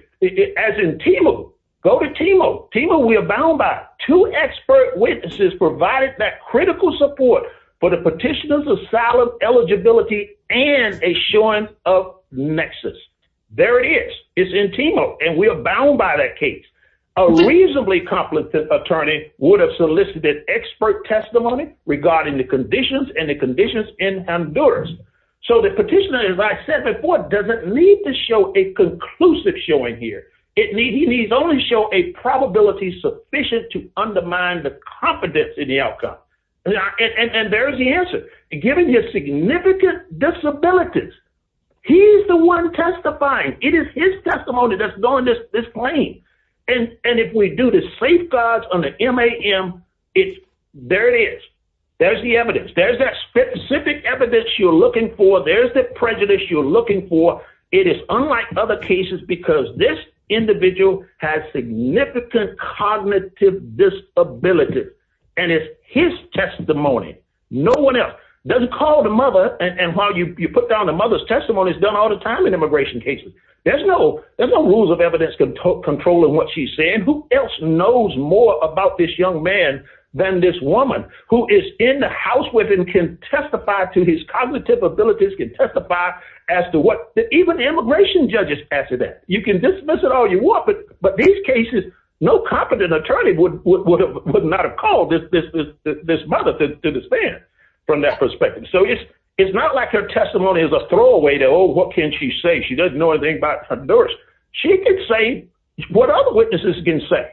as in Timo, go to Timo. Timo, we are bound by two expert witnesses provided that critical support for the petitioner's asylum eligibility and a showing of nexus. There it is. It's in Timo, and we are bound by that case. A reasonably competent attorney would have solicited expert testimony regarding the conditions and the conditions in Honduras. So the petitioner, as I said before, doesn't need to show a conclusive showing here. He needs only show a probability sufficient to undermine the confidence in the outcome. And there's the answer. Given his significant disabilities, he's the one testifying. It is his testimony that's going to this claim. And if we do the safeguards on the MAM, there it is. There's that specific evidence you're looking for. There's the prejudice you're looking for. It is unlike other cases, because this individual has significant cognitive disability, and it's his testimony. No one else. Doesn't call the mother, and while you put down the mother's testimony, it's done all the time in immigration cases. There's no rules of evidence controlling what she's saying. Who else knows more about this young man than this woman, who is in the house with him, can testify to his cognitive abilities, can testify as to what even immigration judges pass it as. You can dismiss it all you want, but these cases, no competent attorney would not have called this mother to the stand from that perspective. So it's not like her testimony is a throwaway that, oh, what can she say? She doesn't know anything about Honduras. She can say what other witnesses can say.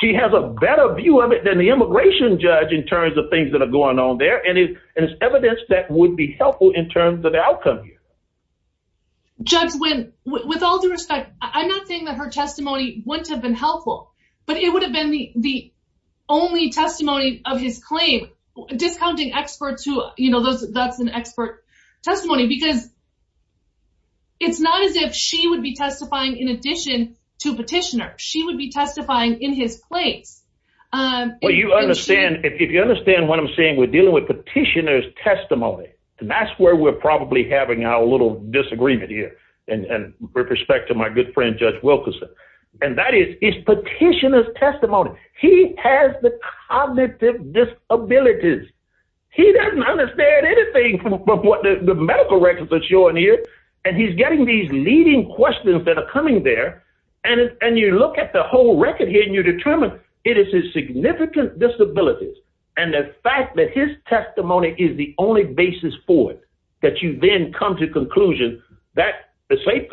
She has a better view of it than the immigration judge in terms of things that are going on there, and it's evidence that would be helpful in terms of the outcome here. Judge, with all due respect, I'm not saying that her testimony wouldn't have been helpful, but it would have been the only testimony of his claim, discounting experts who, you know, that's an expert testimony, because it's not as if she would be testifying in addition to petitioner. She would be testifying in his claim. Well, if you understand what I'm saying, we're dealing with petitioner's testimony. That's where we're probably having our little disagreement here, and with respect to my good friend Judge Wilkerson, and that is petitioner's testimony. He has the cognitive disabilities. He doesn't understand anything from what the medical records are showing here, and he's getting these leading questions that are coming there, and you look at the whole record here, and you determine it is his significant disabilities, and the fact that his testimony is the only basis for it, that you then come to conclusion that the state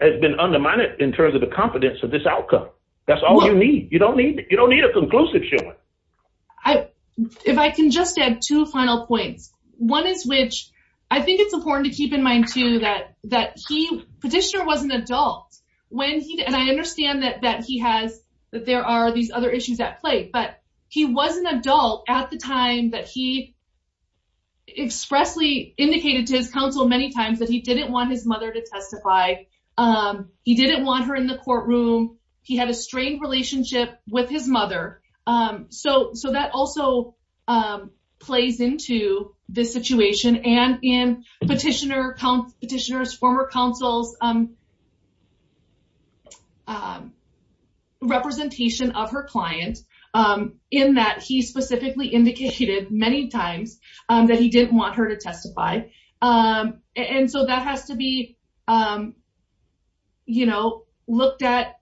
has been undermined in terms of the competence of this outcome. That's all you need. You don't need a conclusive statement. If I can just add two final points. One is which I think it's important to keep in mind, too, that petitioner was an adult, and I understand that he has, that there are these other issues at play, but he was an adult at the time that he expressly indicated to his counsel many times that he didn't want his mother to testify. He didn't want her in the courtroom. He had a relationship with his mother, so that also plays into this situation, and in petitioner's former counsel's representation of her client in that he specifically indicated many times that he didn't want her to testify, and so that has to be, you know, looked at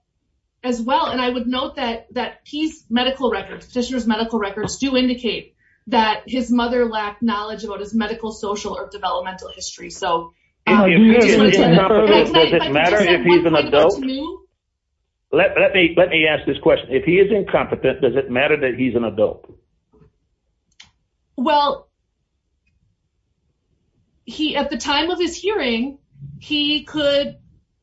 as well, and I would note that Keith's medical records, petitioner's medical records, do indicate that his mother lacked knowledge about his medical, social, or developmental history, so. Does it matter if he's an adult? Let me ask this question. If he is incompetent, does it matter that he's an adult? Well, he, at the time of his hearing, he could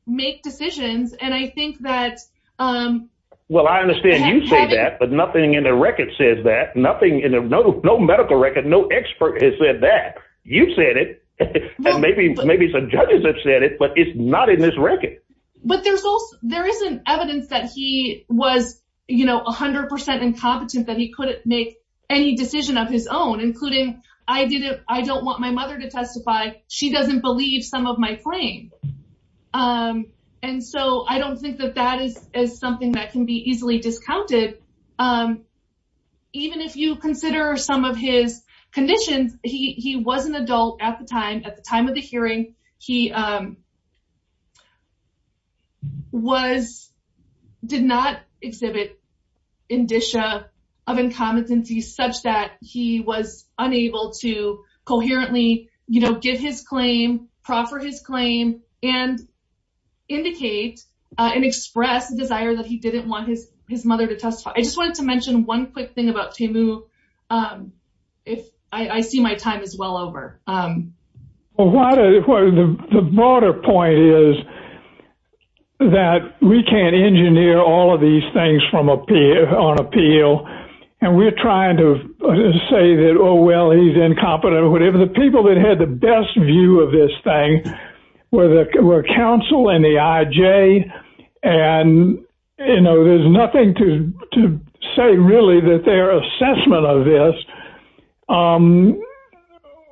make decisions, and I think that. Well, I understand you say that, but nothing in the record says that. Nothing in the, no medical record, no expert has said that. You said it, and maybe some judges have said it, but it's not in this record. But there's also, there isn't evidence that he was, you know, 100 percent incompetent, that he couldn't make any decision of his own, including, I didn't, I don't want my mother to testify. She doesn't believe some of my claims, and so I don't think that that is something that can be easily discounted. Even if you consider some of his conditions, he was an adult at the time, at the time of the hearing, he was, did not exhibit indicia of incompetency such that he was unable to coherently, you know, get his claim, proffer his claim, and indicate and express desire that he didn't want his mother to testify. I just wanted to mention one quick thing about Well, the broader point is that we can't engineer all of these things on appeal, and we're trying to say that, oh, well, he's incompetent or whatever. The people that had the best view of this thing were counsel and the IJ, and, you know, there's nothing to say really that their assessment of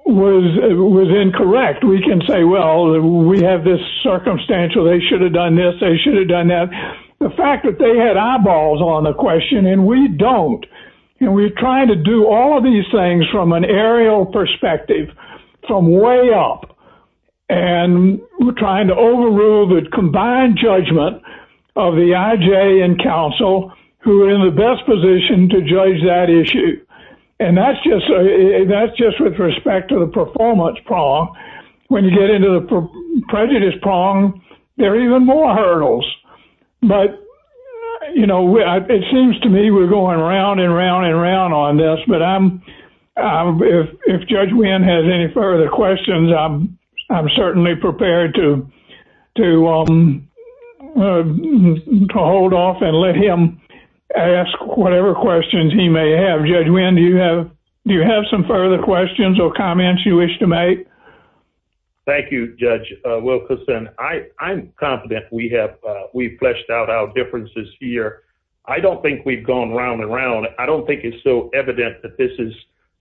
was incorrect. We can say, well, we have this circumstantial, they should have done this, they should have done that. The fact that they had eyeballs on the question, and we don't, and we're trying to do all of these things from an aerial perspective, from way up, and we're trying to overrule the combined judgment of the IJ and counsel who are in the best position to When you get into the prejudice prong, there are even more hurdles. But, you know, it seems to me we're going around and around and around on this, but if Judge Wynn has any further questions, I'm certainly prepared to hold off and let him ask whatever questions he may have. Judge Wynn, do you have some further questions or comments you wish to make? Thank you, Judge Wilkerson. I'm confident we have, we've fleshed out our differences here. I don't think we've gone round and round. I don't think it's so evident that this is,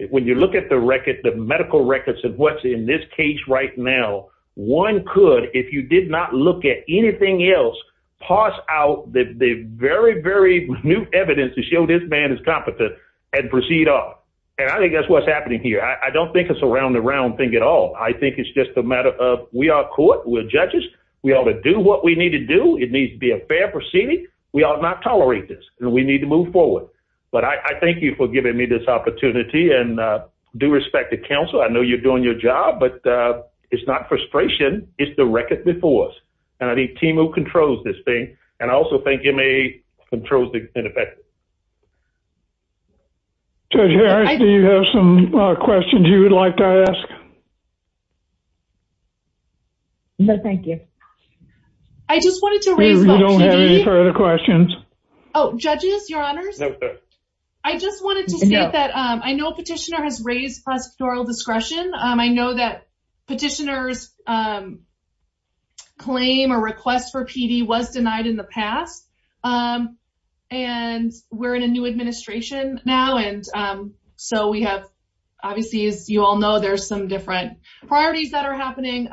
when you look at the record, the medical records of what's in this case right now, one could, if you did not look at anything else, pass out the very, very new evidence to show this is competent and proceed on. And I think that's what's happening here. I don't think it's a round and round thing at all. I think it's just a matter of, we are court, we're judges, we ought to do what we need to do. It needs to be a fair proceeding. We ought not tolerate this, and we need to move forward. But I thank you for giving me this opportunity and due respect to counsel. I know you're doing your job, but it's not frustration, it's the record before us. And I think Timo controls this thing, and I also think MA controls the ineffective. Judge Harris, do you have some questions you would like to ask? No, thank you. I just wanted to- We don't have any further questions. Oh, judges, your honors? Yes, ma'am. I just wanted to say that I know a petitioner has raised pastoral discretion. I know that and we're in a new administration now. And so we have, obviously, as you all know, there's some different priorities that are happening.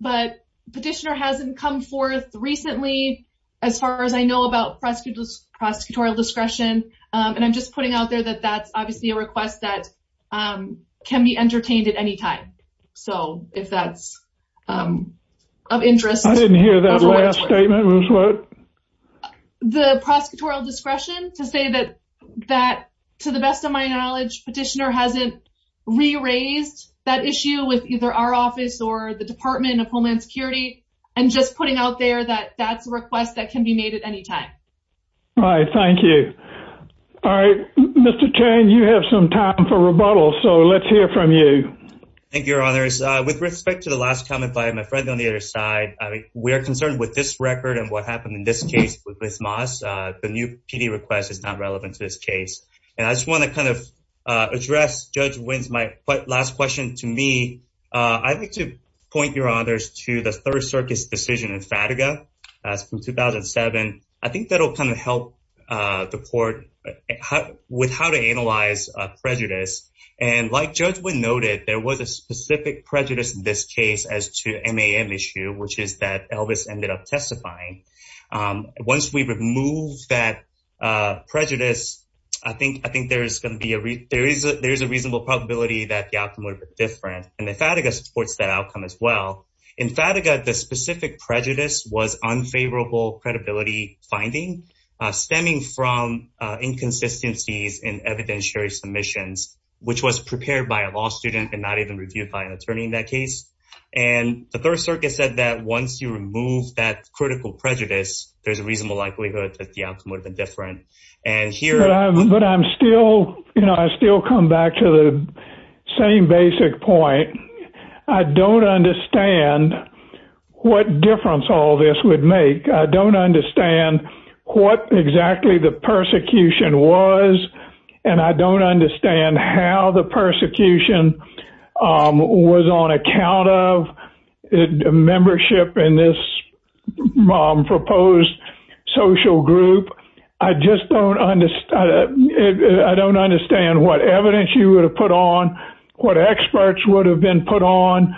But petitioner hasn't come forth recently, as far as I know, about prosecutorial discretion. And I'm just putting out there that that's obviously a request that can be entertained at any time. So if that's of interest- I didn't hear that last statement was what? The prosecutorial discretion to say that, to the best of my knowledge, petitioner hasn't re-raised that issue with either our office or the Department of Homeland Security, and just putting out there that that's a request that can be made at any time. All right, thank you. Mr. King, you have some time for rebuttal, so let's hear from you. Thank you, your honors. With respect to the last comment by my friend on the other side, we are concerned with this record and what happened in this case with Ms. Moss. The new PD request is not relevant to this case. And I just want to address Judge Wynn's last question to me. I'd like to point, your honors, to the Third Circus decision in Sataga from 2007. I think that'll help the court with how to analyze prejudice. And like Judge Wynn noted, there was a specific prejudice in this case as to MAM issue, which is that Elvis ended up testifying. Once we remove that prejudice, I think there's a reasonable possibility that the outcome was different. And Sataga supports that outcome as well. In Sataga, the specific prejudice was unfavorable credibility finding, stemming from inconsistencies in evidentiary submissions, which was prepared by a law student and not even reviewed by an attorney in that case. And the Third Circuit said that once you remove that critical prejudice, there's a reasonable likelihood that the outcome would have been different. But I'm still, you know, I still come back to the same basic point. I don't understand what difference all this would make. I don't understand what exactly the persecution was, and I don't understand how the persecution was on account of membership in this proposed social group. I just don't understand. I don't understand what evidence you would have put on, what experts would have been put on.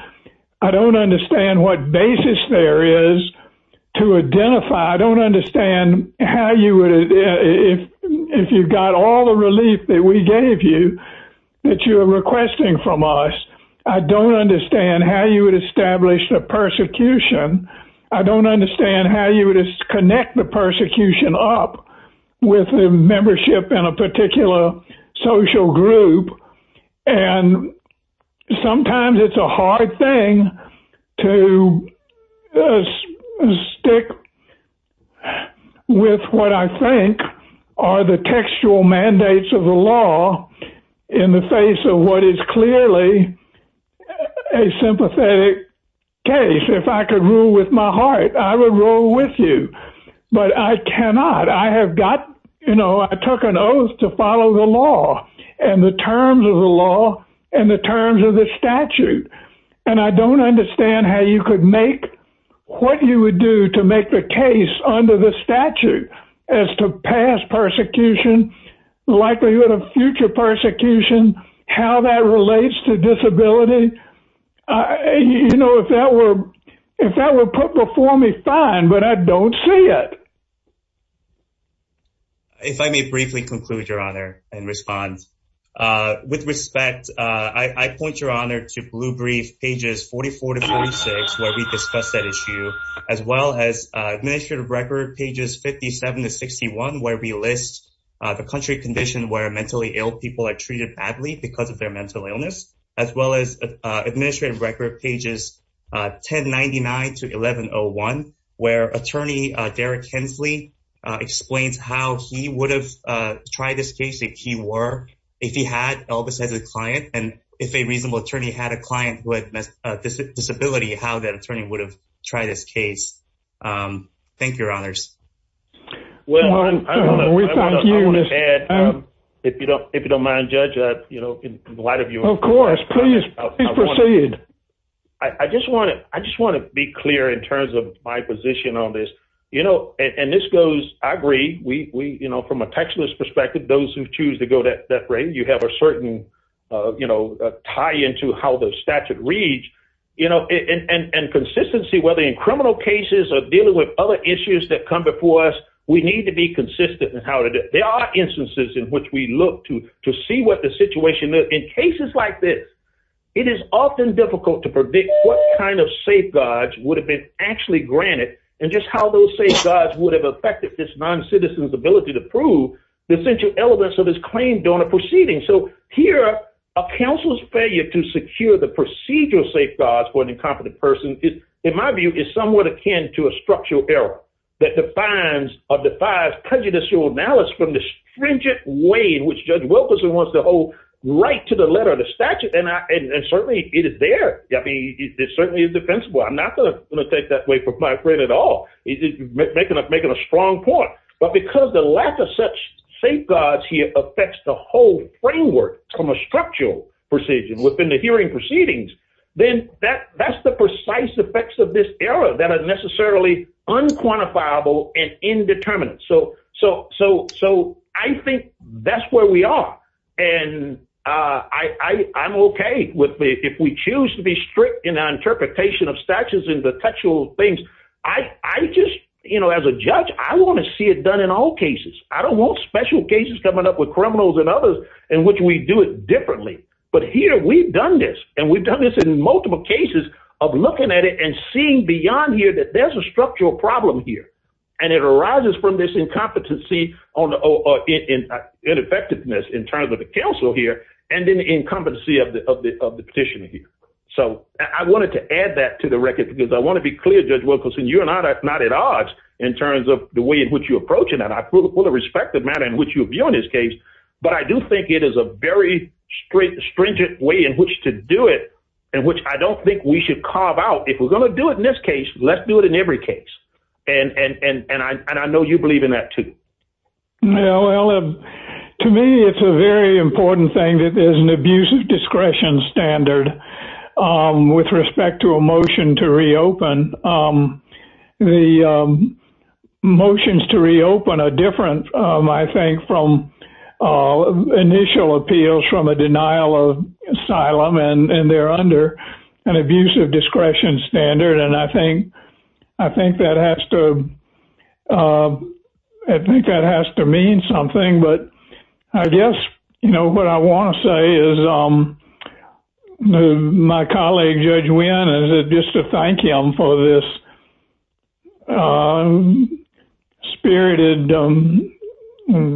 I don't understand what basis there is to identify. I don't understand how you would, if you've got all the relief that we gave you, that you're requesting from us. I don't understand how you would establish the persecution. I don't understand how you would connect the persecution up with the membership in a particular social group. And sometimes it's a hard thing to stick with what I think are the textual mandates of the law in the face of what is clearly a sympathetic case. If I could rule with my heart, I would rule with you, but I cannot. I have got, you know, I took an oath to follow the law and the terms of the law and the terms of the statute, and I don't understand how you could make what you would do to make the case under the statute as to past persecution, likelihood of future persecution, how that relates to disability. You know, if that were for me, fine, but I don't see it. If I may briefly conclude your honor and respond with respect, I point your honor to Blue Brief pages 44 to 46, where we discussed that issue, as well as administrative record pages 57 to 61, where we list the country condition where mentally ill people are treated badly because of their mental illness, as well as administrative record pages 1099 to 1101, where attorney Derek Hensley explains how he would have tried this case if he were, if he had, Elvis as a client, and if a reasonable attorney had a client who had a disability, how that attorney would have tried this case. Thank you, your honors. Well, if you don't, if you don't mind, judge, you know, a lot of you, of course, please proceed. I just want to, I just want to be clear in terms of my position on this, you know, and this goes, I agree, we, you know, from a textualist perspective, those who choose to go that that way, you have a certain, you know, tie into how the statute reads, you know, and consistency, whether in criminal cases or dealing with other issues that come before us, we need to be consistent in how to do it. There are instances in which we look to, to see what the situation is. In cases like this, it is often difficult to predict what kind of safeguards would have been actually granted and just how those safeguards would have affected this non-citizen's ability to prove the essential elements of his claim during the proceeding. So here, a counsel's failure to secure the procedural safeguards for an incompetent person is, in my view, is somewhat akin to a structural error that defines or defies prejudicial analysis from the stringent way in which Judge Wilkerson wants to hold right to the letter of the statute. And I, and certainly it is there. I mean, it's certainly defensible. I'm not going to take that way from my friend at all. He's making a strong point, but because the lack of such safeguards here affects the whole framework from a structural procedure within the hearing proceedings, then that's the precise effects of this error that are necessarily unquantifiable and indeterminate. So, so, so, so I think that's where we are. And I, I, I'm okay with the, if we choose to be strict in our interpretation of statutes and contextual things, I, I just, you know, as a judge, I want to see it done in all cases. I don't want special cases coming up with criminals and others in which we do it differently. But here we've done this and we've done this in multiple cases of looking at it and seeing beyond here that there's a structural problem here. And it arises from this incompetency on the, or in, in effectiveness in terms of the counsel here, and then the incompetency of the, of the, of the petition here. So I wanted to add that to the record because I want to be clear, Judge Wilkerson, you and I are not at odds in terms of the way in which you're approaching that. I fully respect the manner in which you view this case, but I do think it is a very stringent way in which to do it and which I don't think we should carve out. If we're going to do it in this case, let's do it in every case. And, and, and, and I, and I know you believe in that too. Well, to me, it's a very important thing that there's an abusive discretion standard with respect to a motion to reopen. The motions to reopen are different, I think, from initial appeals from a denial of asylum and they're under an abusive discretion standard. And I think, I think that has to, I think that has to mean something, but I guess, you know, what I want to say is my colleague, Judge Wynn, is just to thank him for this spirited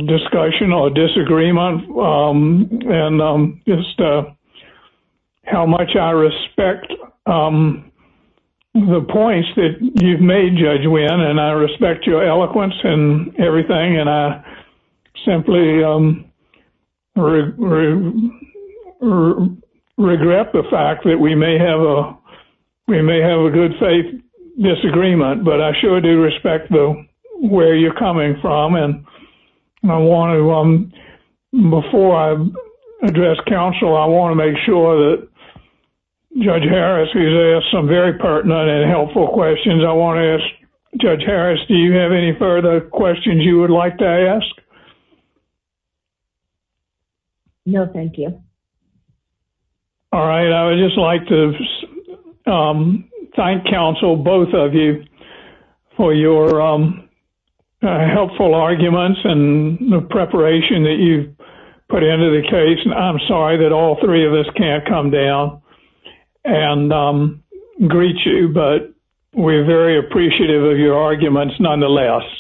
discussion or disagreement and just how much I respect the points that you've made, and I respect your eloquence and everything. And I simply regret the fact that we may have a, we may have a good faith disagreement, but I sure do respect the way you're coming from. And I want to, before I address counsel, I want to make sure that Judge Harris has asked some pertinent and helpful questions. I want to ask Judge Harris, do you have any further questions you would like to ask? No, thank you. All right. I would just like to thank counsel, both of you, for your helpful arguments and the preparation that you've put into the case. And I'm sorry that all three of us can't come down and greet you, but we're very appreciative of your arguments nonetheless.